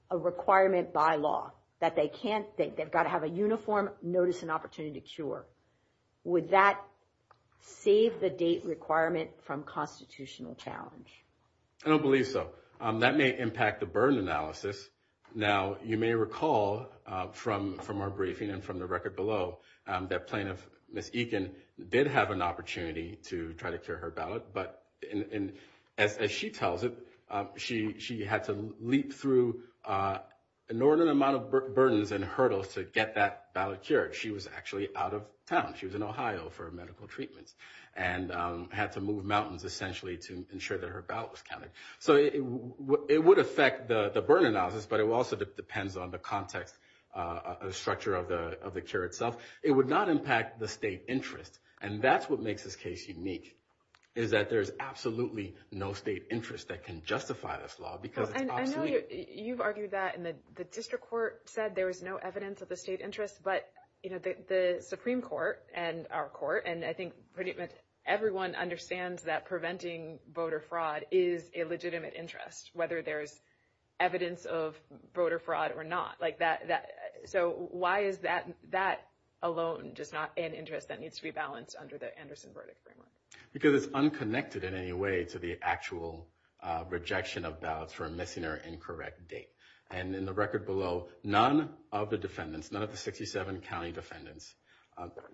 a requirement by law, that they can't think, they've got to have a uniform notice and opportunity to cure. Would that save the date requirement from constitutional challenge? I don't believe so. That may impact the burden analysis. Now, you may recall from our briefing and from the record below that plaintiff, Ms. Eakin, did have an opportunity to try to cure her ballot. As she tells it, she had to leap through an inordinate amount of burdens and hurdles to get that ballot cured. She was actually out of town. She was in Ohio for medical treatment and had to move mountains essentially to ensure that her ballot was counted. It would affect the burden analysis, but it also depends on the context structure of the cure itself. It would not impact the state interest, and that's what makes this case unique, is that there's absolutely no state interest that can justify this law because it's obsolete. I know you've argued that in the district court said there was no evidence of the state interest, but the Supreme Court and our court, and I think pretty much everyone understands that preventing voter fraud is a legitimate interest whether there's evidence of voter fraud or not. Why is that alone just not an interest that needs to be balanced under the Anderson verdict framework? Because it's unconnected in any way to the actual rejection of ballots for a missing or incorrect date. In the record below, none of the defendants, none of the 67 county defendants,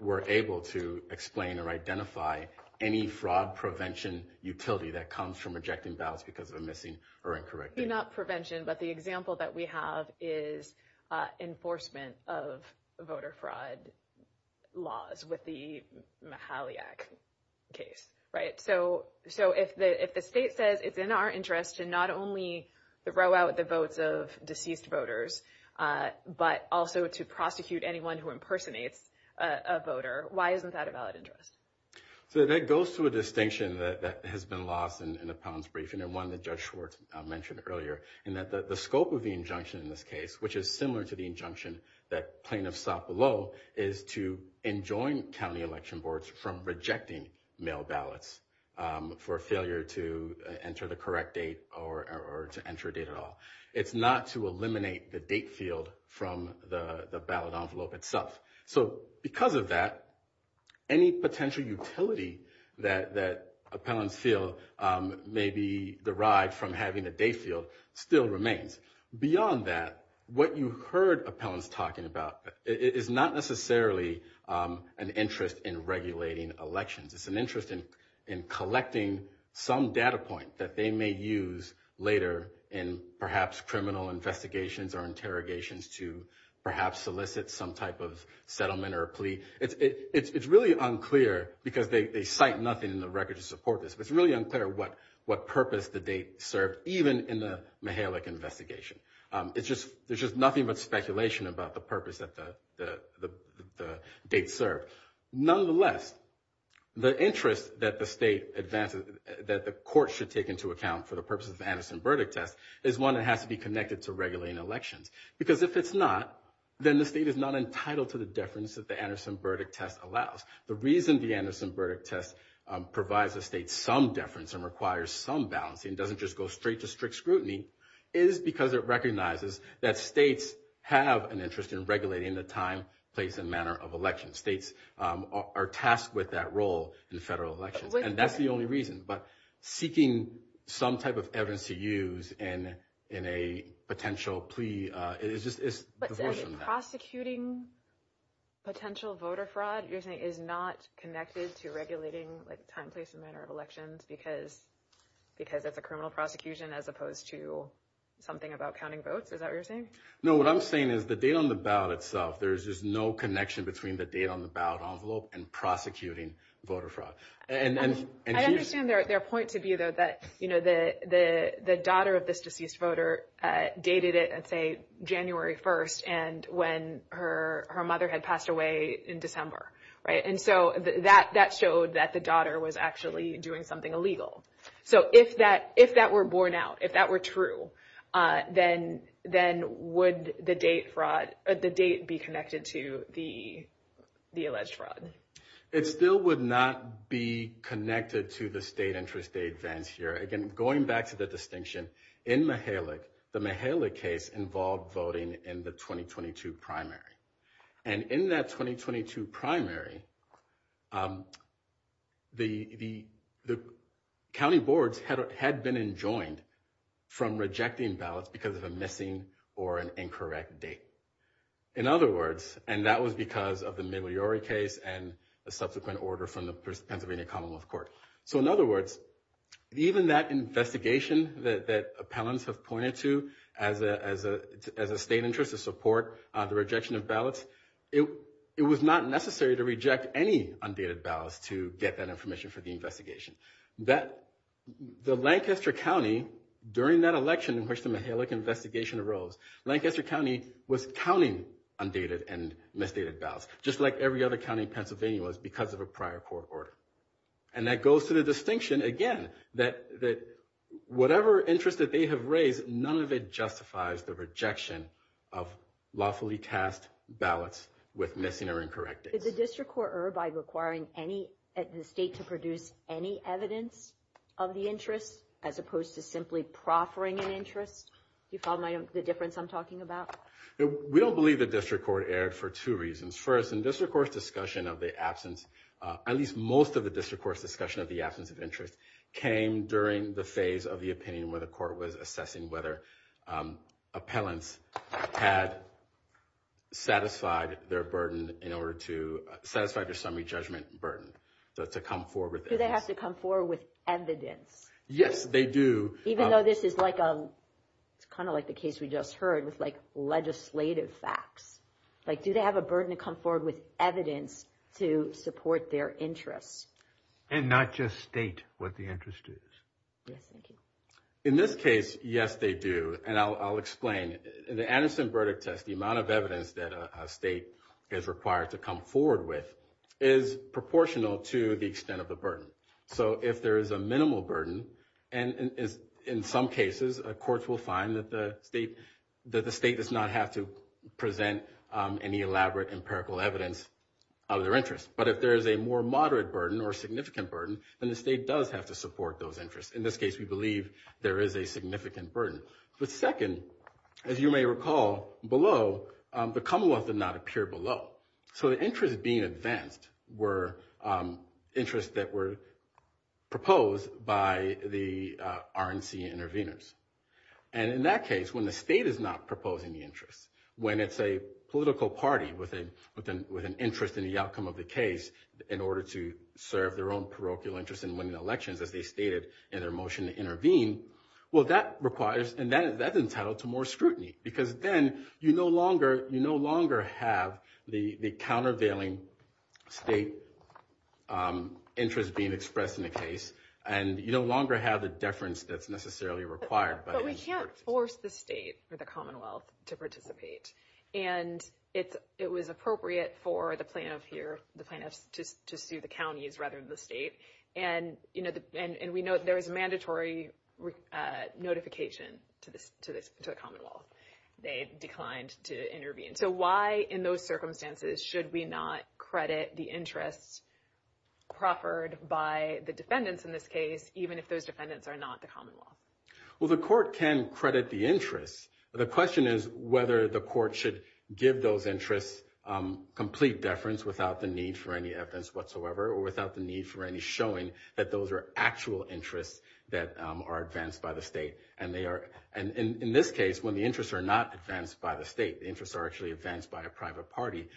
were able to explain or identify any fraud prevention utility that comes from rejecting ballots because of a missing or incorrect date. It's not prevention, but the example that we have is enforcement of voter fraud laws with the Mahaliak case, right? So if the state says it's in our interest to not only throw out the votes of deceased voters but also to prosecute anyone who impersonates a voter, why isn't that a valid interest? So that goes to a distinction that has been lost in the Pounds briefing and one that Judge Schwartz mentioned earlier, in that the scope of the injunction in this case, which is similar to the injunction that plaintiffs sought below, is to enjoin county election boards from rejecting mail ballots for failure to enter the correct date or to enter a date at all. It's not to eliminate the date field from the ballot envelope itself. So because of that, any potential utility that appellants feel may be derived from having a date field still remains. Beyond that, what you heard appellants talking about is not necessarily an interest in regulating elections. It's an interest in collecting some data point that they may use later in perhaps criminal investigations or interrogations to perhaps solicit some type of settlement or plea. It's really unclear because they cite nothing in the record to support this, but it's really unclear what purpose the date served even in the Mahaliak investigation. There's just nothing but speculation about the purpose that the date served. Nonetheless, the interest that the court should take into account for the purpose of the Anderson-Burdick test is one that has to be connected to regulating elections. Because if it's not, then the state is not entitled to the deference that the Anderson-Burdick test allows. The reason the Anderson-Burdick test provides the state some deference and requires some balancing, doesn't just go straight to strict scrutiny, is because it recognizes that states have an interest in regulating the time, place, and manner of elections. States are tasked with that role in federal elections, and that's the only reason. But seeking some type of evidence to use in a potential plea is divorced from that. But prosecuting potential voter fraud, you're saying, is not connected to regulating time, place, and manner of elections because of the criminal prosecution as opposed to something about counting votes? Is that what you're saying? No, what I'm saying is the date on the ballot itself, there's just no connection between the date on the ballot envelope and prosecuting voter fraud. I understand their point to be, though, that the daughter of this deceased voter dated it, let's say, January 1st and when her mother had passed away in December. And so that showed that the daughter was actually doing something illegal. So if that were borne out, if that were true, then would the date be connected to the alleged fraud? It still would not be connected to the state interest aid vent here. Again, going back to the distinction, in Mihalyk, the Mihalyk case involved voting in the 2022 primary. And in that 2022 primary, the county boards had been enjoined from rejecting ballots because of a missing or an incorrect date. In other words, and that was because of the Migliore case and a subsequent order from the Pennsylvania Commonwealth Court. So in other words, even that investigation that appellants have pointed to as a state interest to support the rejection of ballots, it was not necessary to reject any undated ballots to get that information for the investigation. The Lancaster County, during that election in which the Mihalyk investigation arose, Lancaster County was counting undated and misdated ballots, just like every other county in Pennsylvania was because of a prior court order. And that goes to the distinction, again, that whatever interest that they have raised, none of it justifies the rejection of lawfully cast ballots with missing or incorrect dates. Did the district court err by requiring the state to produce any evidence of the interest as opposed to simply proffering an interest? Do you follow the difference I'm talking about? We don't believe the district court erred for two reasons. First, the district court's discussion of the absence, at least most of the district court's discussion of the absence of interest, came during the phase of the opinion where the court was assessing whether appellants had satisfied their burden in order to – satisfied their summary judgment burden, so to come forward with evidence. Do they have to come forward with evidence? Yes, they do. Even though this is like a – it's kind of like the case we just heard with legislative facts. Like, do they have a burden to come forward with evidence to support their interest? And not just state what the interest is. In this case, yes, they do. And I'll explain. In the Anderson verdict test, the amount of evidence that a state is required to come forward with is proportional to the extent of the burden. So if there is a minimal burden – and in some cases, courts will find that the state does not have to present any elaborate empirical evidence of their interest. But if there is a more moderate burden or significant burden, then the state does have to support those interests. In this case, we believe there is a significant burden. But second, as you may recall below, the Commonwealth did not appear below. So the interests being advanced were interests that were proposed by the RNC interveners. And in that case, when the state is not proposing the interest, when it's a political party with an interest in the outcome of the case in order to serve their own parochial interest in winning elections, as they stated in their motion to intervene, well, that requires – and that's entitled to more scrutiny because then you no longer have the countervailing state interest being expressed in the case and you no longer have the deference that's necessarily required. But we can't force the state or the Commonwealth to participate. And it was appropriate for the plaintiffs here, the plaintiffs to see the counties rather than the state. And we know there was mandatory notification to the Commonwealth. They declined to intervene. So why in those circumstances should we not credit the interest proffered by the defendants in this case even if those defendants are not the Commonwealth? Well, the court can credit the interest. But the question is whether the court should give those interests complete deference without the need for any evidence whatsoever or without the need for any showing that those are actual interests that are advanced by the state. And in this case, when the interests are not advanced by the state, the interests are actually advanced by the private party.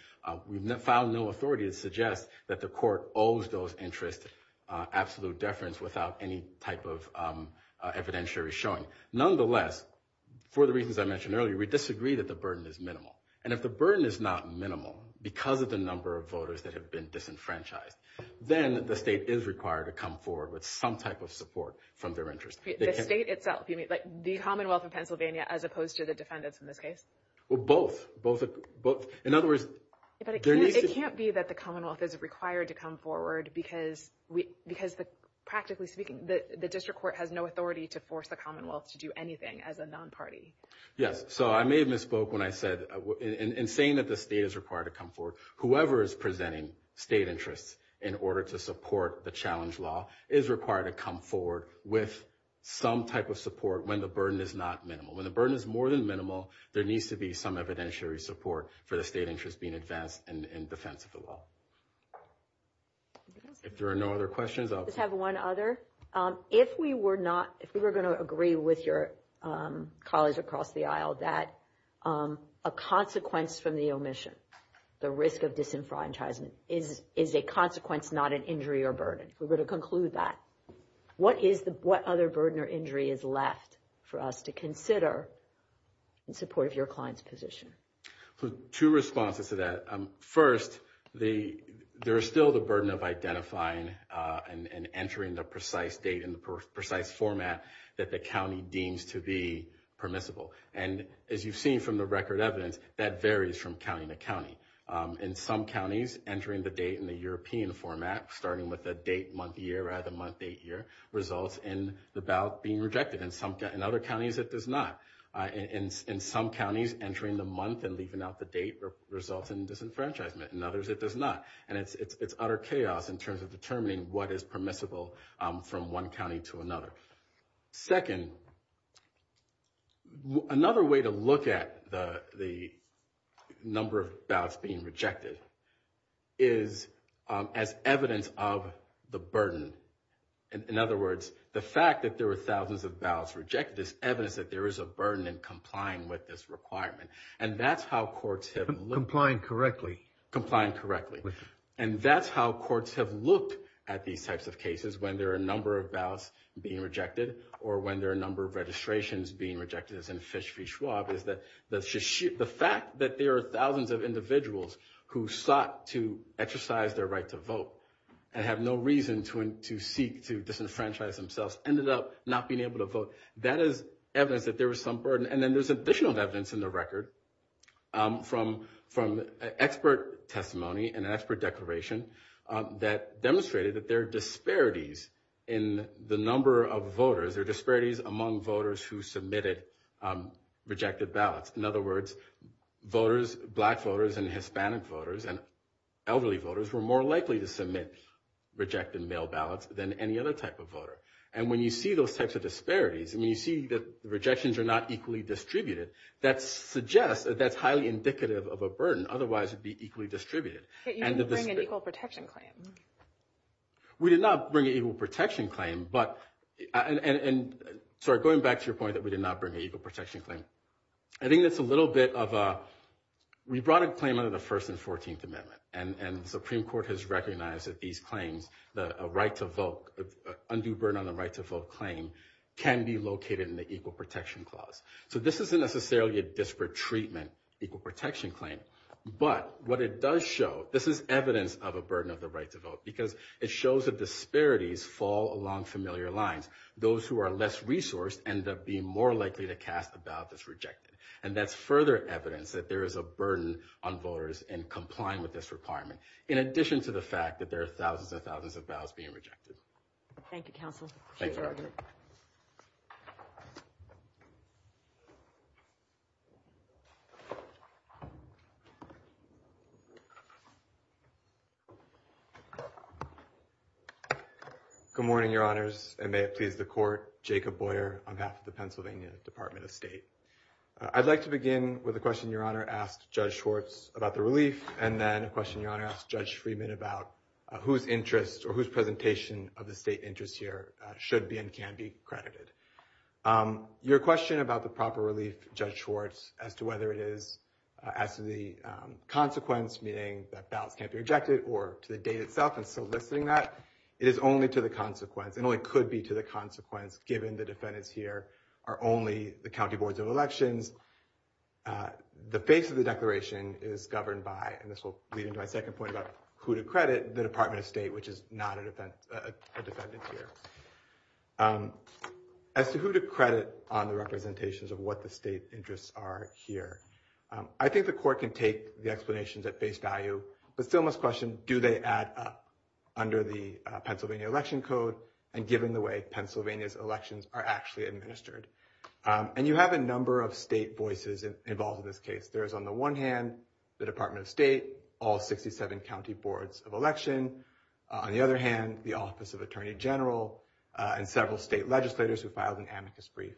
We found no authority to suggest that the court owes those interests absolute deference without any type of evidentiary showing. Nonetheless, for the reasons I mentioned earlier, we disagree that the burden is minimal. And if the burden is not minimal because of the number of voters that have been disenfranchised, then the state is required to come forward with some type of support from their interests. The state itself? You mean like the Commonwealth of Pennsylvania as opposed to the defendants in this case? Well, both. It can't be that the Commonwealth is required to come forward because, practically speaking, the district court has no authority to force the Commonwealth to do anything as a non-party. Yes. So I may have misspoke when I said in saying that the state is required to come forward, whoever is presenting state interests in order to support the challenge law is required to come forward with some type of support when the burden is not minimal. When the burden is more than minimal, there needs to be some evidentiary support for the state interest being advanced in defense of the law. If there are no other questions, I'll just have one other. If we were going to agree with your colleagues across the aisle that a consequence from the omission, the risk of disenfranchisement, is a consequence, not an injury or burden. We're going to conclude that. What other burden or injury is left for us to consider in support of your client's position? Two responses to that. First, there is still the burden of identifying and entering the precise date and the precise format that the county deems to be permissible. And as you've seen from the record evidence, that varies from county to county. In some counties, entering the date in the European format, starting with the date, month, year, rather than month, date, year, results in the ballot being rejected. In other counties, it does not. In some counties, entering the month and leaving out the date results in disenfranchisement. In others, it does not. And it's utter chaos in terms of determining what is permissible from one county to another. Second, another way to look at the number of ballots being rejected is as evidence of the burden. In other words, the fact that there were thousands of ballots rejected is evidence that there is a burden in complying with this requirement. And that's how courts have looked. Complying correctly. Complying correctly. And that's how courts have looked at these types of cases when there are a number of ballots being rejected or when there are a number of registrations being rejected. As in Fish v. Schwab, the fact that there are thousands of individuals who sought to exercise their right to vote and have no reason to seek to disenfranchise themselves ended up not being able to vote. That is evidence that there is some burden. And then there's additional evidence in the record from expert testimony and expert declaration that demonstrated that there are disparities in the number of voters. There are disparities among voters who submitted rejected ballots. In other words, voters, black voters and Hispanic voters and elderly voters were more likely to submit rejected mail ballots than any other type of voter. And when you see those types of disparities and you see that the rejections are not equally distributed, that suggests that that's highly indicative of a burden. Otherwise, it would be equally distributed. But you didn't bring an equal protection claim. We did not bring an equal protection claim. And so going back to your point that we did not bring an equal protection claim, I think that's a little bit of a – we brought a claim under the First and Fourteenth Amendment. And the Supreme Court has recognized that these claims, the right to vote, undue burden on the right to vote claim can be located in the equal protection clause. So this isn't necessarily a disparate treatment equal protection claim. But what it does show, this is evidence of a burden of the right to vote because it shows that disparities fall along familiar lines. Those who are less resourced end up being more likely to cast a ballot that's rejected. And that's further evidence that there is a burden on voters in complying with this requirement, in addition to the fact that there are thousands and thousands of ballots being rejected. Thank you, counsel. Thank you. Good morning, Your Honors, and may it please the Court. Jacob Boyer. I'm half of the Pennsylvania Department of State. I'd like to begin with a question Your Honor asked Judge Schwartz about the release and then a question Your Honor asked Judge Friedman about whose interest or whose presentation of the state interest here should be and can be credited. Your question about the proper release, Judge Schwartz, as to whether it is, as to the consequence, meaning that ballots can't be rejected or to the date itself, and soliciting that, is only to the consequence, and only could be to the consequence, given the defendants here are only the county boards of elections. The face of the declaration is governed by, and this will lead into my second point about who to credit, the Department of State, which is not a defendant here. As to who to credit on the representations of what the state's interests are here, I think the Court can take the explanations at face value, but still must question do they add up under the Pennsylvania Election Code and given the way Pennsylvania's elections are actually administered. And you have a number of state voices involved in this case. There's on the one hand, the Department of State, all 67 county boards of election. On the other hand, the Office of Attorney General and several state legislators who filed an amicus brief.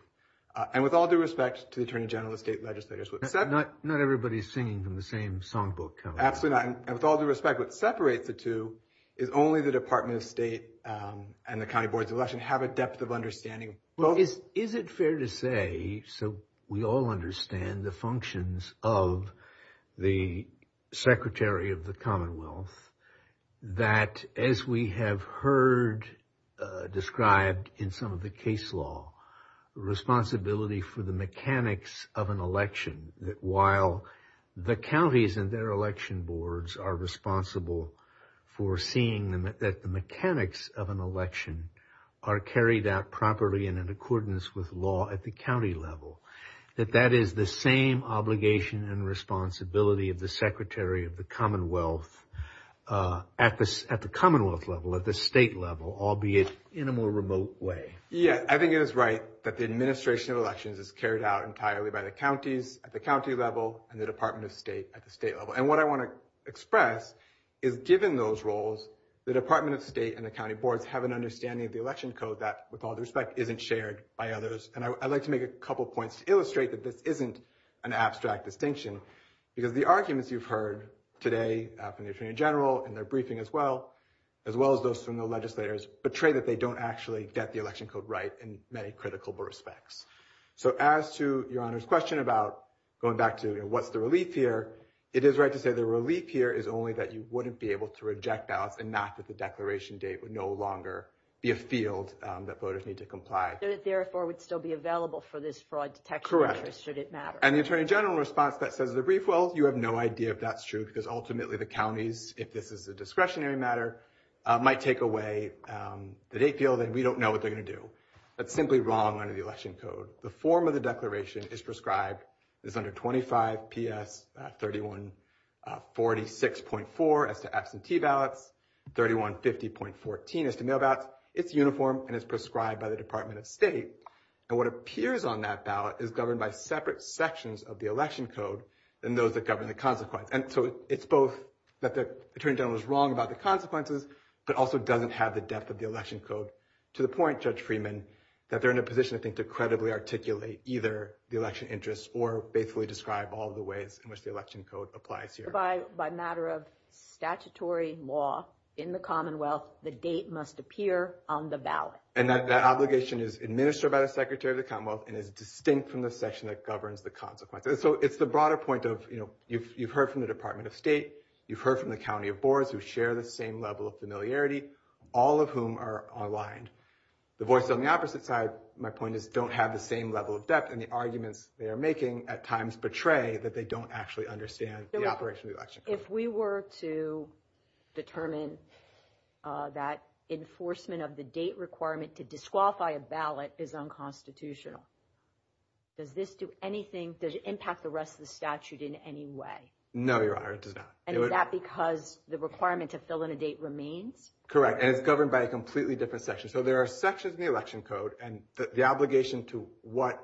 And with all due respect to the Attorney General and state legislators. Not everybody's singing from the same songbook. Absolutely not. And with all due respect, what separates the two is only the Department of State and the county boards of election have a depth of understanding. Is it fair to say, so we all understand the functions of the Secretary of the Commonwealth, that as we have heard described in some of the case law, the responsibility for the mechanics of an election. That while the counties and their election boards are responsible for seeing that the mechanics of an election are carried out properly and in accordance with law at the county level. That that is the same obligation and responsibility of the Secretary of the Commonwealth at the Commonwealth level, at the state level, albeit in a more remote way. Yeah, I think it is right that the administration of elections is carried out entirely by the counties at the county level and the Department of State at the state level. And what I want to express is given those roles, the Department of State and the county boards have an understanding of the election code that, with all due respect, isn't shared by others. And I'd like to make a couple points to illustrate that this isn't an abstract distinction. Because the arguments you've heard today in the Attorney General and their briefing as well, as well as those from the legislators, betray that they don't actually get the election code right in many critical respects. So as to Your Honor's question about going back to what's the relief here, it is right to say the relief here is only that you wouldn't be able to reject out and not that the declaration date would no longer be a field that voters need to comply. So it therefore would still be available for this fraud detection measure should it matter. Correct. And the Attorney General response that says the relief, well, you have no idea if that's true because ultimately the counties, if this is a discretionary matter, might take away the date field and we don't know what they're going to do. That's simply wrong under the election code. The form of the declaration is prescribed. It's under 25 PS 3146.4 at the absentee ballot. 3150.14 is the mail ballot. It's uniform and is prescribed by the Department of State. And what appears on that ballot is governed by separate sections of the election code than those that govern the consequence. And so it's both that the Attorney General is wrong about the consequences, but also doesn't have the depth of the election code. To the point, Judge Freeman, that they're in a position, I think, to credibly articulate either the election interests or basically describe all the ways in which the election code applies here. By matter of statutory law in the Commonwealth, the date must appear on the ballot. And that obligation is administered by the Secretary of the Commonwealth and is distinct from the section that governs the consequences. So it's the broader point of, you know, you've heard from the Department of State. You've heard from the county boards who share the same level of familiarity, all of whom are online. The voice on the opposite side, my point is, don't have the same level of depth. And the arguments they are making at times portray that they don't actually understand the operation of the election code. If we were to determine that enforcement of the date requirement to disqualify a ballot is unconstitutional, does this do anything? Does it impact the rest of the statute in any way? No, Your Honor, it does not. And is that because the requirement to fill in a date remains? Correct, and it's governed by a completely different section. So there are sections of the election code, and the obligation to what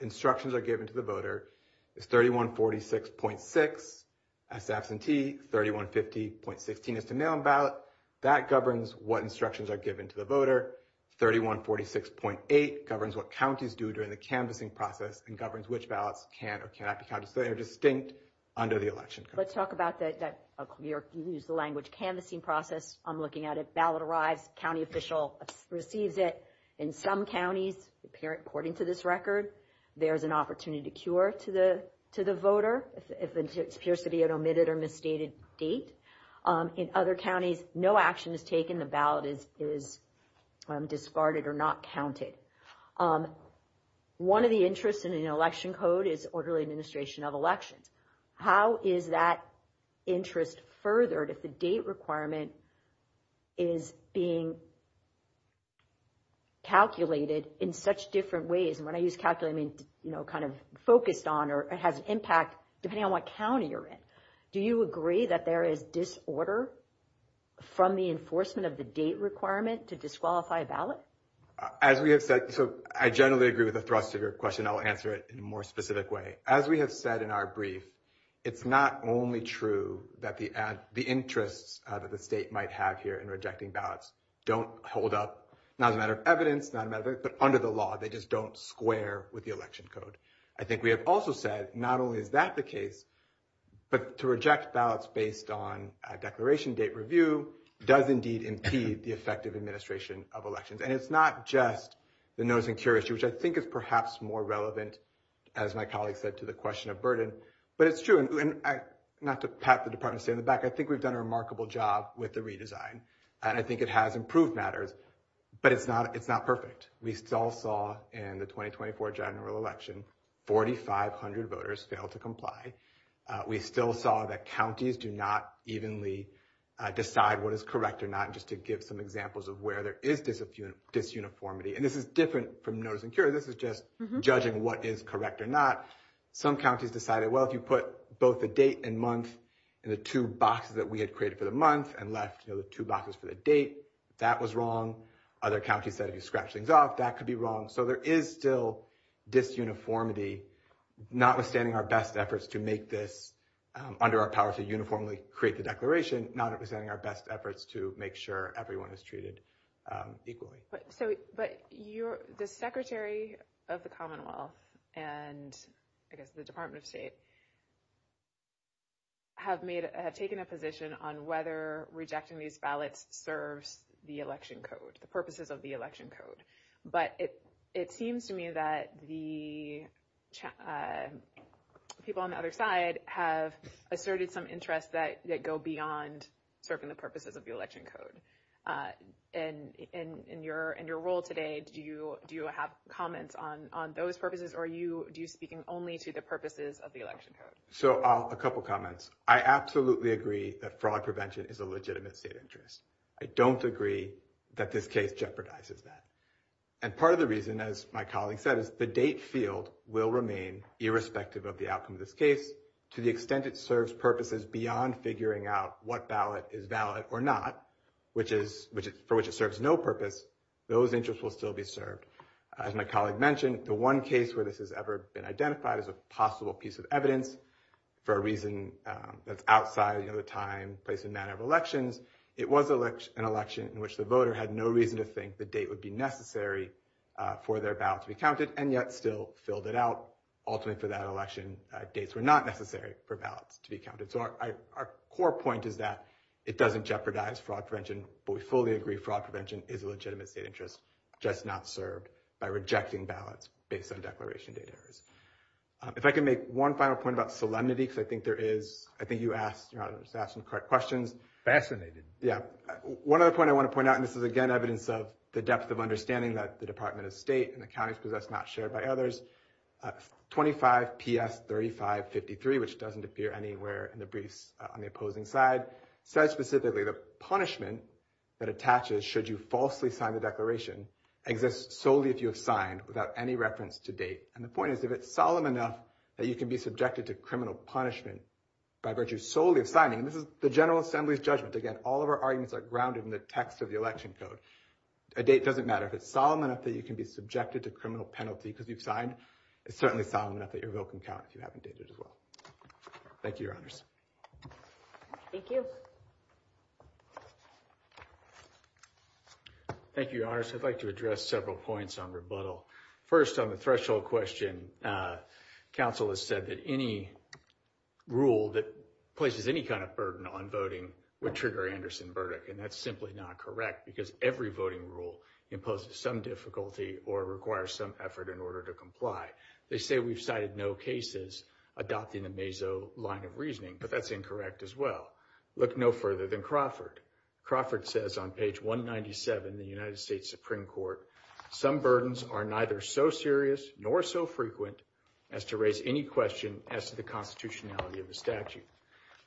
instructions are given to the voter is 3146.6. As absentee, 3150.16 is to mail-in ballot. That governs what instructions are given to the voter. 3146.8 governs what counties do during the canvassing process and governs which ballots can or cannot be counted. So they are distinct under the election code. Let's talk about that. You used the language canvassing process. I'm looking at it. Ballot arrives, county official receives it. In some counties, according to this record, there's an opportunity to cure to the voter. If it appears to be an omitted or misstated date. In other counties, no action is taken, the ballot is discarded or not counted. One of the interests in an election code is orderly administration of elections. How is that interest furthered if the date requirement is being calculated in such different ways? And when I use calculated, I mean, you know, kind of focused on or has an impact depending on what county you're in. Do you agree that there is disorder from the enforcement of the date requirement to disqualify a ballot? I generally agree with the thrust of your question. I'll answer it in a more specific way. As we have said in our brief, it's not only true that the interest that the state might have here in rejecting ballots don't hold up, not a matter of evidence, not a matter of evidence, but under the law. They just don't square with the election code. I think we have also said, not only is that the case, but to reject ballots based on a declaration date review does indeed impede the effective administration of elections. And it's not just the notice and curiosity, which I think is perhaps more relevant, as my colleague said, to the question of burden. But it's true, and not to pat the department's head on the back, I think we've done a remarkable job with the redesign. And I think it has improved matters, but it's not perfect. We still saw in the 2024 general election, 4,500 voters failed to comply. We still saw that counties do not evenly decide what is correct or not, just to give some examples of where there is disuniformity. And this is different from notice and curiosity. This is just judging what is correct or not. Some counties decided, well, if you put both the date and month in the two boxes that we had created for the month and left those two boxes for the date, that was wrong. Other counties decided to scratch things off, that could be wrong. So there is still disuniformity, notwithstanding our best efforts to make this – under our powers to uniformly create the declaration, notwithstanding our best efforts to make sure everyone is treated equally. But the Secretary of the Commonwealth and I guess the Department of State have made – have taken a position on whether rejecting these ballots serves the election code, the purposes of the election code. But it seems to me that the people on the other side have asserted some interests that go beyond serving the purposes of the election code. And in your role today, do you have comments on those purposes, or are you speaking only to the purposes of the election code? So a couple comments. I absolutely agree that fraud prevention is a legitimate state interest. I don't agree that this case jeopardizes that. And part of the reason, as my colleague said, is the date field will remain irrespective of the outcome of this case to the extent it serves purposes beyond figuring out what ballot is valid or not. For which it serves no purpose, those interests will still be served. As my colleague mentioned, the one case where this has ever been identified as a possible piece of evidence for a reason that's outside the time, place, and manner of election, it was an election in which the voter had no reason to think the date would be necessary for their ballot to be counted and yet still filled it out. Ultimately for that election, dates were not necessary for ballots to be counted. So our core point is that it doesn't jeopardize fraud prevention, but we fully agree fraud prevention is a legitimate state interest. It's just not served by rejecting ballots based on declaration date errors. If I can make one final point about solemnity, because I think you asked some correct questions. Fascinating. Yeah. One other point I want to point out, and this is again evidence of the depth of understanding that the Department of State and the counties possess not shared by others. 25 PS 3553, which doesn't appear anywhere in the brief on the opposing side, says specifically the punishment that attaches should you falsely sign the declaration exists solely if you have signed without any reference to date. And the point is if it's solemn enough that you can be subjected to criminal punishment by virtue solely of signing. This is the General Assembly's judgment. Again, all of our arguments are grounded in the text of the election code. A date doesn't matter if it's solemn enough that you can be subjected to criminal penalties as you sign. It's certainly solemn enough that your vote can count if you haven't dated as well. Thank you, Your Honors. Thank you. Thank you, Your Honors. I'd like to address several points on rebuttal. First, on the threshold question, council has said that any rule that places any kind of burden on voting would trigger Anderson's verdict. And that's simply not correct because every voting rule imposes some difficulty or requires some effort in order to comply. They say we've cited no cases adopting the Meso line of reasoning, but that's incorrect as well. Look no further than Crawford. Crawford says on page 197, the United States Supreme Court, some burdens are neither so serious nor so frequent as to raise any question as to the constitutionality of the statute.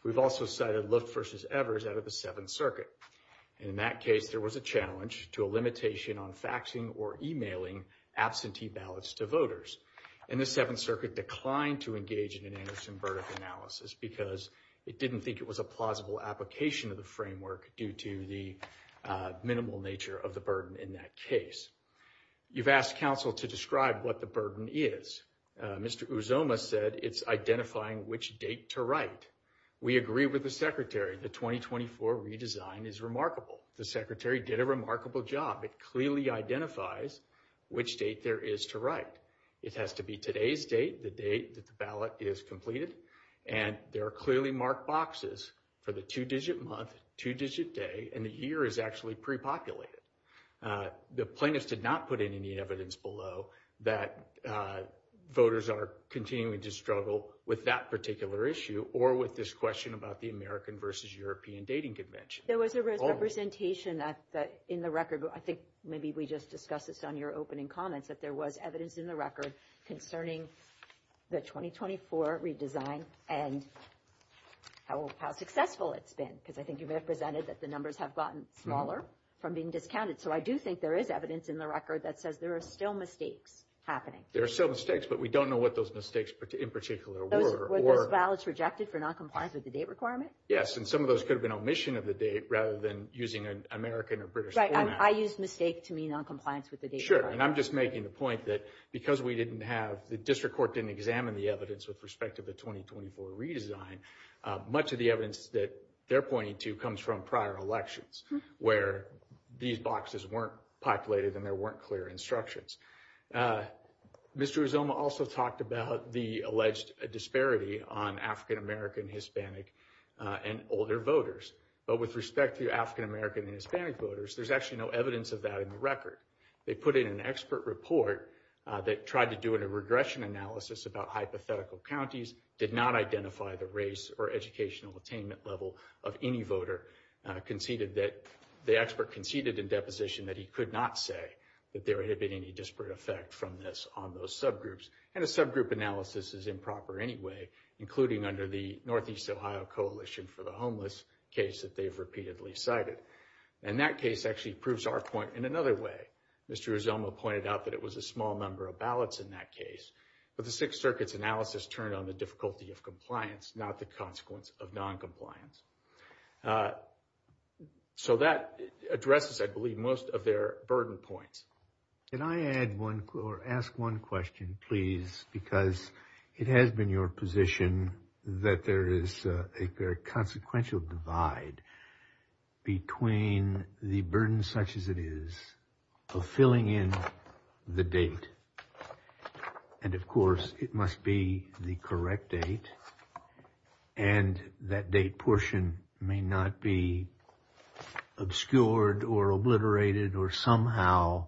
We've also cited Luft v. Evers out of the Seventh Circuit. In that case, there was a challenge to a limitation on faxing or emailing absentee ballots to voters. And the Seventh Circuit declined to engage in an Anderson verdict analysis because it didn't think it was a plausible application of the framework due to the minimal nature of the burden in that case. You've asked council to describe what the burden is. Mr. Uzoma said it's identifying which date to write. We agree with the secretary. The 2024 redesign is remarkable. The secretary did a remarkable job. It clearly identifies which date there is to write. It has to be today's date, the date that the ballot is completed. And there are clearly marked boxes for the two-digit month, two-digit day, and the year is actually pre-populated. The plaintiffs did not put in any evidence below that voters are continuing to struggle with that particular issue or with this question about the American v. European dating convention. There was a representation that in the record, I think maybe we just discussed this on your opening comments, that there was evidence in the record concerning the 2024 redesign and how successful it's been. Because I think you represented that the numbers have gotten smaller from being discounted. So I do think there is evidence in the record that says there are still mistakes happening. There are still mistakes, but we don't know what those mistakes in particular were. Were those ballots rejected for noncompliance with the date requirement? Yes, and some of those could have been omission of the date rather than using an American or British format. I used mistakes to mean noncompliance with the date requirement. Sure, and I'm just making the point that because we didn't have, the district court didn't examine the evidence with respect to the 2024 redesign, much of the evidence that they're pointing to comes from prior elections where these boxes weren't populated and there weren't clear instructions. Mr. Uzoma also talked about the alleged disparity on African American, Hispanic, and older voters. But with respect to African American and Hispanic voters, there's actually no evidence of that in the record. They put in an expert report that tried to do a regression analysis about hypothetical counties, did not identify the race or educational attainment level of any voter. The expert conceded in deposition that he could not say that there had been any disparate effect from this on those subgroups. And the subgroup analysis is improper anyway, including under the Northeast Ohio Coalition for the Homeless case that they've repeatedly cited. And that case actually proves our point in another way. Mr. Uzoma pointed out that it was a small number of ballots in that case. But the Sixth Circuit's analysis turned on the difficulty of compliance, not the consequence of noncompliance. So that addresses, I believe, most of their burden points. Can I ask one question, please? Because it has been your position that there is a very consequential divide between the burden such as it is of filling in the date. And, of course, it must be the correct date. And that date portion may not be obscured or obliterated or somehow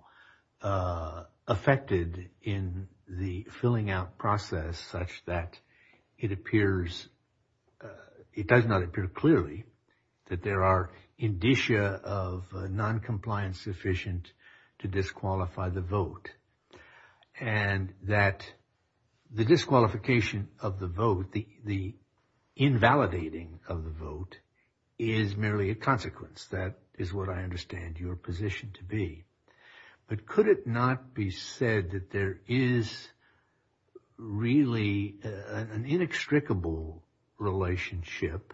affected in the filling out process such that it appears, it does not appear clearly that there are indicia of noncompliance sufficient to disqualify the vote. And that the disqualification of the vote, the invalidating of the vote is merely a consequence. That is what I understand your position to be. But could it not be said that there is really an inextricable relationship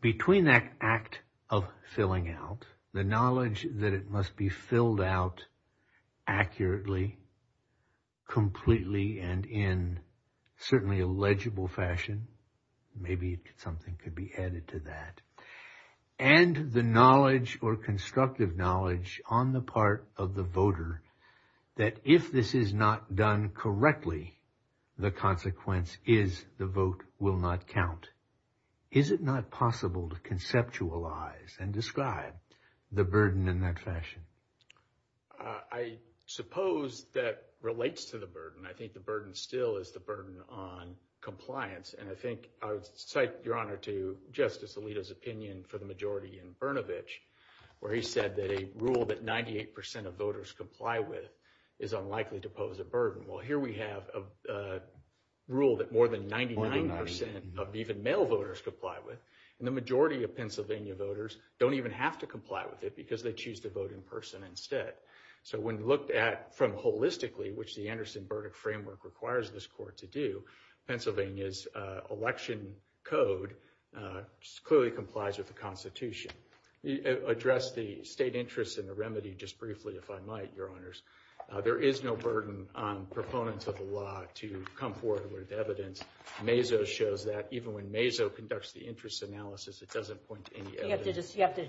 between that act of filling out, the knowledge that it must be filled out accurately, completely, and in certainly a legible fashion. Maybe something could be added to that. And the knowledge or constructive knowledge on the part of the voter that if this is not done correctly, the consequence is the vote will not count. Is it not possible to conceptualize and describe the burden in that fashion? I suppose that relates to the burden. I think the burden still is the burden on compliance. And I think I would cite, Your Honor, to Justice Alito's opinion for the majority in Brnovich where he said that a rule that 98 percent of voters comply with is unlikely to pose a burden. Well, here we have a rule that more than 99 percent of even male voters comply with. And the majority of Pennsylvania voters don't even have to comply with it because they choose to vote in person instead. So when you look at from holistically, which the Anderson-Burdick framework requires this court to do, Pennsylvania's election code clearly complies with the Constitution. Let me address the state interest in the remedy just briefly, if I might, Your Honors. There is no burden on proponents of the law to come forward with evidence. MAISO shows that even when MAISO conducts the interest analysis, it doesn't point to any evidence. You have to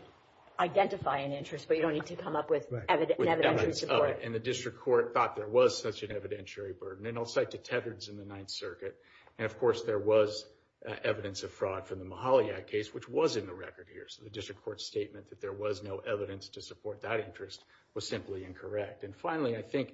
identify an interest, but you don't need to come up with evidence in support. And the district court thought there was such an evidentiary burden. And I'll cite to Tevridge in the Ninth Circuit. And, of course, there was evidence of fraud from the Mahalia case, which was in the record here. So the district court's statement that there was no evidence to support that interest was simply incorrect. And finally, I think,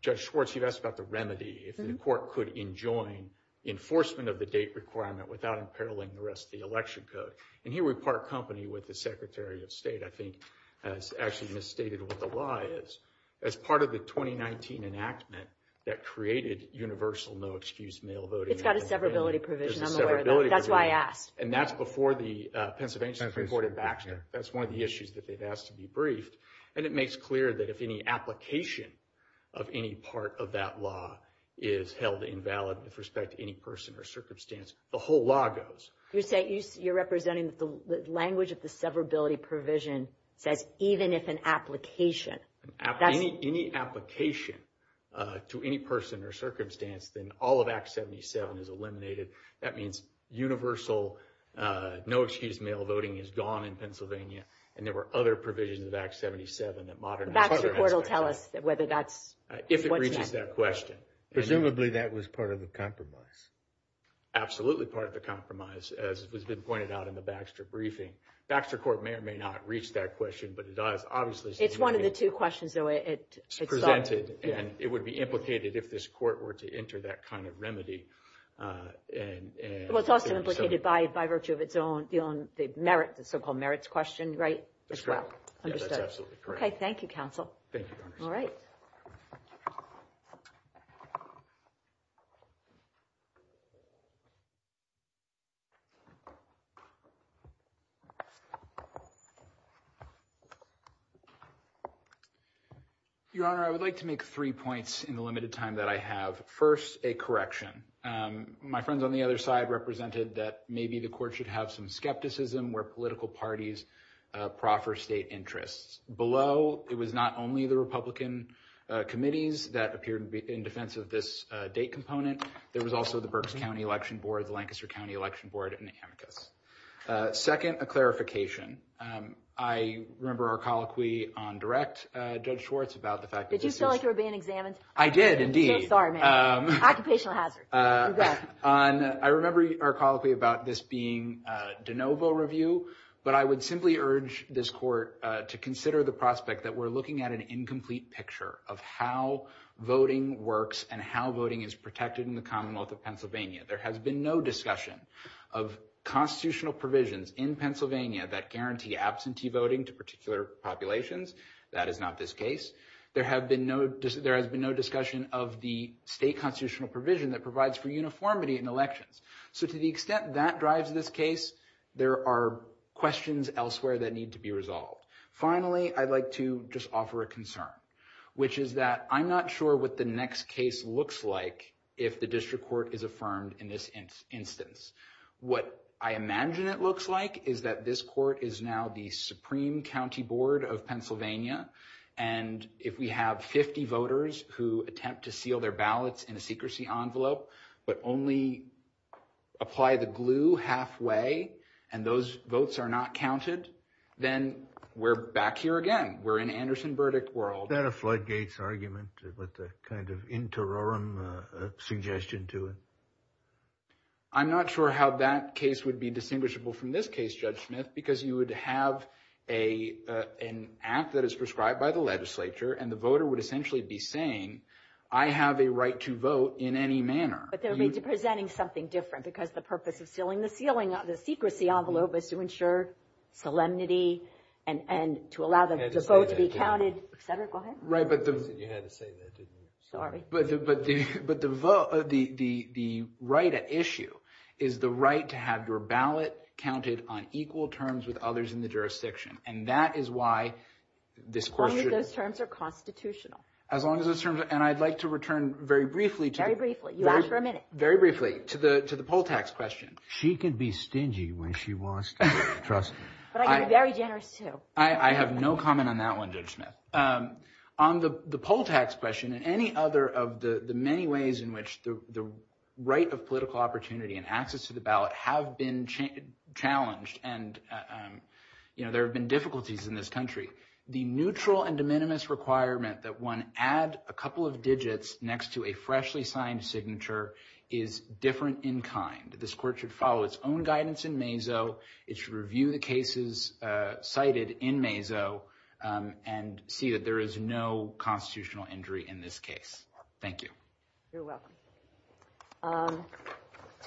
Judge Schwartz, you asked about the remedy. If the court could enjoin enforcement of the date requirement without imperiling the rest of the election code. And here we part company with the Secretary of State, I think, has actually misstated what the lie is. As part of the 2019 enactment that created universal no-excuse mail voting. It's got a severability provision. I'm aware of that. That's why I asked. And that's before the Pennsylvania Supreme Court in Baxter. That's one of the issues that they've asked to be briefed. And it makes clear that if any application of any part of that law is held invalid with respect to any person or circumstance, the whole law goes. You're representing the language of the severability provision that even if an application. Any application to any person or circumstance, then all of Act 77 is eliminated. That means universal no-excuse mail voting is gone in Pennsylvania. And there were other provisions of Act 77 that modernize. That report will tell us whether that's. If it reaches that question. Presumably that was part of the compromise. Absolutely part of the compromise, as has been pointed out in the Baxter briefing. Baxter court may or may not reach that question, but it does. Obviously, it's one of the two questions. It's presented and it would be implicated if this court were to enter that kind of remedy. And it's also implicated by virtue of its own merits, the so-called merits question. Right. That's right. OK, thank you, counsel. All right. Your Honor, I would like to make three points in the limited time that I have. First, a correction. My friends on the other side represented that maybe the court should have some skepticism where political parties proffer state interests below. It was not only the Republican committees that appeared to be in defense of this date component. There was also the Berks County Election Board, Lancaster County Election Board. Second, a clarification. I remember our colloquy on direct judge Schwartz about the fact that you feel like you're being examined. I did indeed. Occupational hazard. I remember our colloquy about this being de novo review. But I would simply urge this court to consider the prospect that we're looking at an incomplete picture of how voting works and how voting is protected in the Commonwealth of Pennsylvania. There has been no discussion of constitutional provisions in Pennsylvania that guarantee absentee voting to particular populations. That is not this case. There has been no discussion of the state constitutional provision that provides for uniformity in elections. So to the extent that drives this case, there are questions elsewhere that need to be resolved. Finally, I'd like to just offer a concern, which is that I'm not sure what the next case looks like if the district court is affirmed in this instance. What I imagine it looks like is that this court is now the Supreme County Board of Pennsylvania. And if we have 50 voters who attempt to seal their ballots in a secrecy envelope but only apply the glue halfway and those votes are not counted, then we're back here again. We're in Anderson Burdick world. Is that a floodgates argument with a kind of interim suggestion to it? I'm not sure how that case would be distinguishable from this case, Judge Smith, because you would have an act that is prescribed by the legislature and the voter would essentially be saying, I have a right to vote in any manner. But they'll be presenting something different because the purpose of sealing the secrecy envelope is to ensure solemnity and to allow the vote to be counted. Senator, go ahead. You had to say that, didn't you? Sorry. But the right at issue is the right to have your ballot counted on equal terms with others in the jurisdiction. And that is why this court should – As long as those terms are constitutional. As long as those terms – and I'd like to return very briefly to – Very briefly. You asked for a minute. Very briefly to the poll tax question. She can be stingy when she wants to, trust me. But I can be very generous, too. I have no comment on that one, Judge Smith. On the poll tax question and any other of the many ways in which the right of political opportunity and access to the ballot have been challenged and there have been difficulties in this country, the neutral and de minimis requirement that one add a couple of digits next to a freshly signed signature is different in kind. This court should follow its own guidance in MAZO. It should review the cases cited in MAZO and see that there is no constitutional injury in this case. Thank you. You're welcome.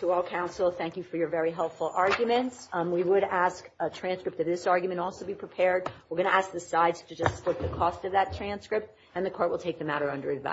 To all counsel, thank you for your very helpful argument. We would ask a transcript of this argument also be prepared. We're going to ask the sides to just put the cost of that transcript, and the court will take the matter under review.